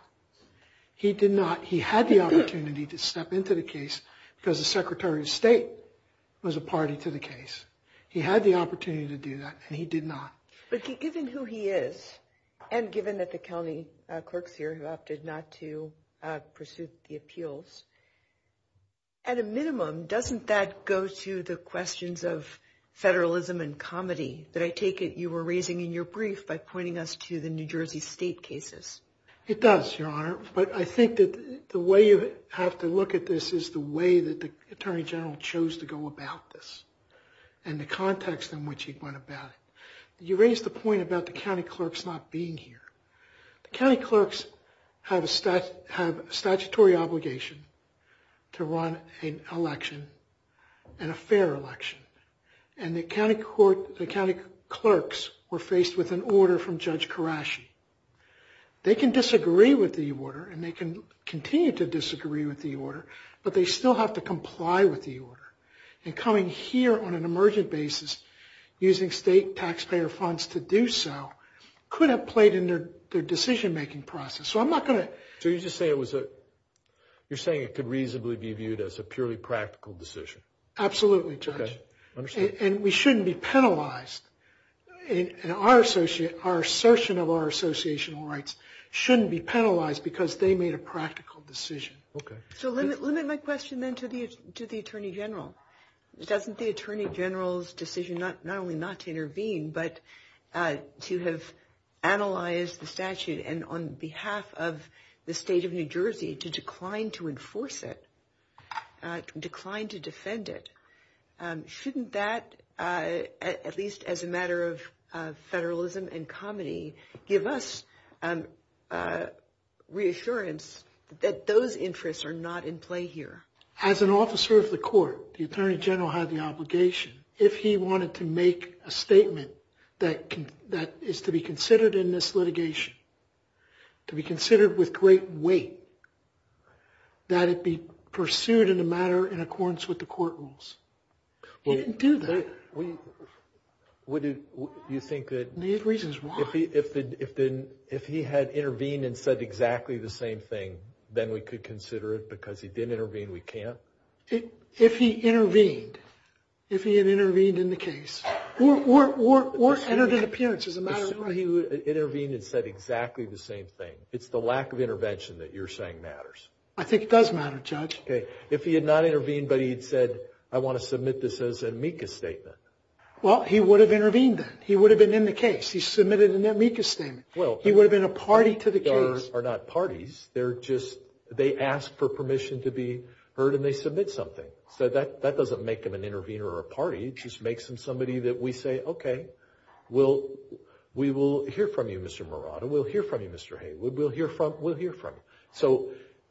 He did not. He had the opportunity to step into the case because the Secretary of State was a party to the case. He had the opportunity to do that, and he did not. But see, given who he is, and given that the county clerks here have opted not to pursue the appeals, at a minimum, doesn't that go to the questions of federalism and comedy? That I take it you were raising in your brief by pointing us to the New Jersey state cases. It does, Your Honor. But I think that the way you have to look at this is the way that the Attorney General chose to go about this, and the context in which he went about it. You raised the point about the county clerks not being here. The county clerks have a statutory obligation to run an election, and a fair election. And the county clerks were faced with an order from Judge Karashi. They can disagree with the order, and they can continue to disagree with the order, but they still have to comply with the order. And coming here on an emergent basis, using state taxpayer funds to do so, could have played into their decision-making process. So I'm not going to... So you're saying it could reasonably be viewed as a purely practical decision? Absolutely, Judge. And we shouldn't be penalized. Our assertion of our associational rights shouldn't be penalized because they made a practical decision. Okay. So limit my question then to the Attorney General. Doesn't the Attorney General's decision not only not to intervene, but to have analyzed the statute, and on behalf of the state of New Jersey, to decline to enforce it, decline to defend it, shouldn't that, at least as a matter of federalism and comity, give us reassurance that those interests are not in play here? As an officer of the court, the Attorney General has the obligation, if he wanted to make a statement that is to be considered in this litigation, to be considered with great weight, that it be pursued in the matter in accordance with the court rules. He didn't do that. Do you think that... If he had intervened and said exactly the same thing, then we could consider it because he didn't intervene, we can't? If he intervened. If he had intervened in the case. Or had an appearance as a matter of... Intervened and said exactly the same thing. It's the lack of intervention that you're saying matters. I think it does matter, Judge. If he had not intervened, but he had said, I want to submit this as an amicus statement. Well, he would have intervened. He would have been in the case. He submitted an amicus statement. He would have been a party to the case. They're not parties. They're just... They ask for permission to be heard and they submit something. So that doesn't make them an intervener or a party. It just makes them somebody that we say, okay, we will hear from you, Mr. Murata. We'll hear from you, Mr. Haywood. We'll hear from you. So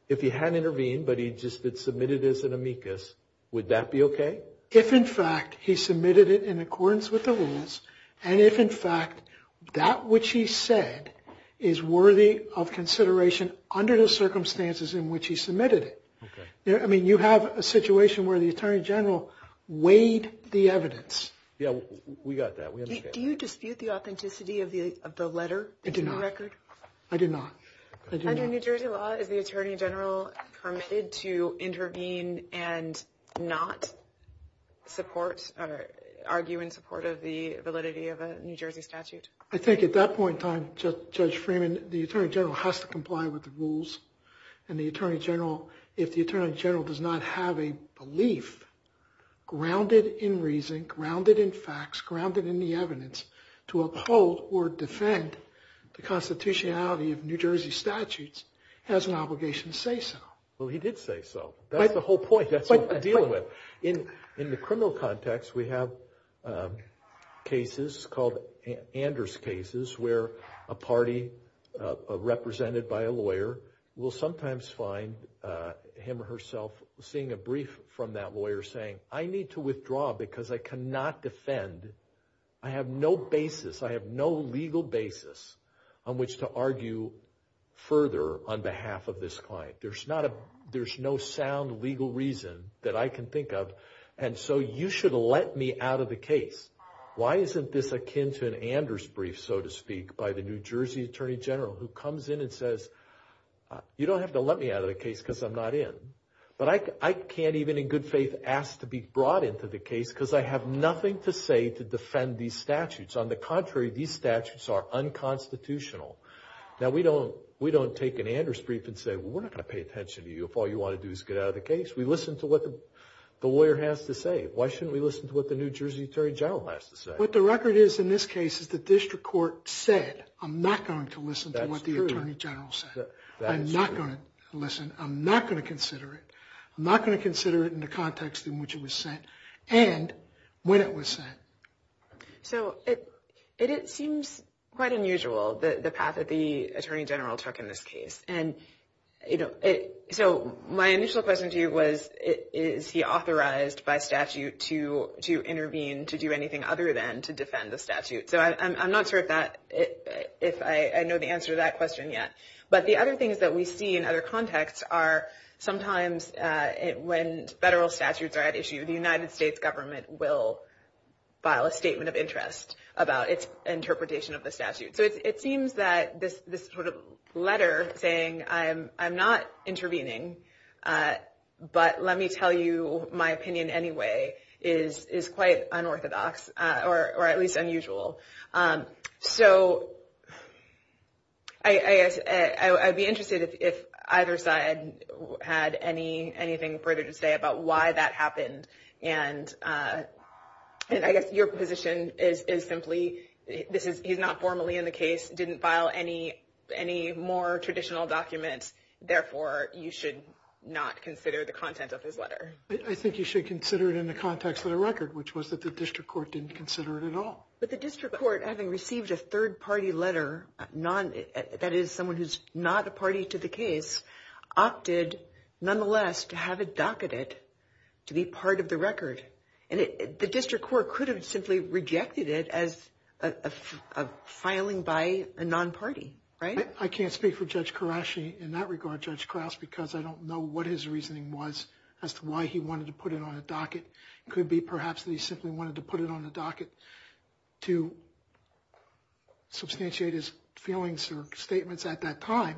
if he hadn't intervened, but he just submitted it as an amicus, would that be okay? If, in fact, he submitted it in accordance with the rules, and if, in fact, that which he said is worthy of consideration under the circumstances in which he submitted it. I mean, you have a situation where the Attorney General weighed the evidence. Yeah, we got that. Do you dispute the authenticity of the letter? I do not. Under New Jersey law, is the Attorney General permitted to intervene and not support or argue in support of the validity of a New Jersey statute? I think at that point in time, Judge Freeman, the Attorney General has to comply with the rules. And the Attorney General, if the Attorney General does not have a belief grounded in reason, grounded in facts, grounded in the evidence to uphold or defend the constitutionality of New Jersey statutes, has an obligation to say so. Well, he did say so. That's the whole point. That's what we're dealing with. In the criminal context, we have cases called Anders cases where a party represented by a lawyer will sometimes find him or herself seeing a brief from that lawyer saying, I need to withdraw because I cannot defend. I have no basis. On which to argue further on behalf of this client. There's no sound legal reason that I can think of. And so you should let me out of the case. Why isn't this akin to an Anders brief, so to speak, by the New Jersey Attorney General who comes in and says, you don't have to let me out of the case because I'm not in. But I can't even in good faith ask to be brought into the case because I have nothing to say to defend these statutes. On the contrary, these statutes are unconstitutional. Now, we don't take an Anders brief and say, well, we're not going to pay attention to you if all you want to do is get out of the case. We listen to what the lawyer has to say. Why shouldn't we listen to what the New Jersey Attorney General has to say? What the record is in this case is the district court said, I'm not going to listen to what the Attorney General said. I'm not going to listen. I'm not going to consider it. I'm not going to consider it in the context in which it was sent and when it was sent. So it seems quite unusual, the path that the Attorney General took in this case. And so my initial question to you was, is he authorized by statute to intervene, to do anything other than to defend the statute? So I'm not sure if I know the answer to that question yet. But the other things that we see in other contexts are sometimes when federal statutes are at issue, the United States government will file a statement of interest about its interpretation of the statute. So it seems that this sort of letter saying, I'm not intervening, but let me tell you my opinion anyway, is quite unorthodox, or at least unusual. So I'd be interested if either side had anything further to say about why that happened. And I guess your position is simply, he's not formally in the case, didn't file any more traditional documents, therefore you should not consider the content of his letter. I think you should consider it in the context of the record, which was that the district court didn't consider it at all. But the district court, having received a third-party letter, that is someone who's not a party to the case, opted nonetheless to have it docketed to be part of the record. And the district court could have simply rejected it as a filing by a non-party, right? I can't speak for Judge Karashi in that regard, Judge Krause, because I don't know what his reasoning was as to why he wanted to put it on a docket. It could be perhaps that he simply wanted to put it on the docket to substantiate his feelings or statements at that time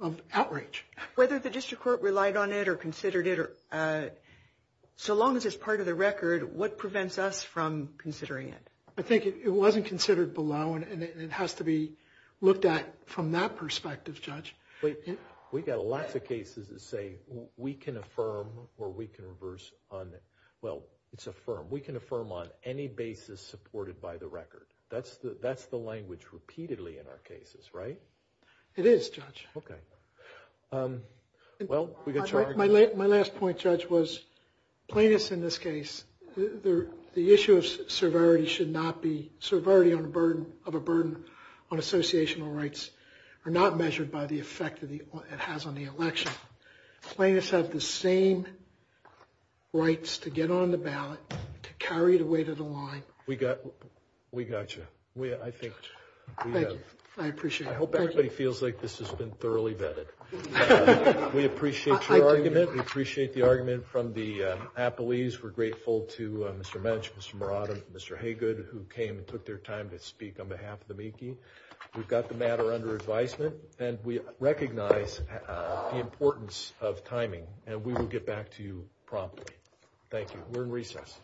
of outrage. Whether the district court relied on it or considered it, so long as it's part of the record, what prevents us from considering it? I think it wasn't considered below, and it has to be looked at from that perspective, Judge. We've got a lot of cases that say, we can affirm or we can reverse on it. Well, it's affirm. We can affirm on any basis supported by the record. That's the language repeatedly in our cases, right? It is, Judge. Okay. My last point, Judge, was plaintiffs in this case, the issue of severity should not be, severity of a burden on associational rights are not measured by the effect it has on the election. Plaintiffs have the same rights to get on the ballot, to carry the weight of the line. We got you. Thank you. I appreciate it. I hope everybody feels like this has been thoroughly vetted. We appreciate your argument. We appreciate the argument from the appellees. We're grateful to Mr. Mench, Mr. Marotta, Mr. Haygood, who came and took their time to speak on behalf of the meekie. We've got the matter under advisement, and we recognize the importance of timing, and we will get back to you promptly. Thank you. We're in recess.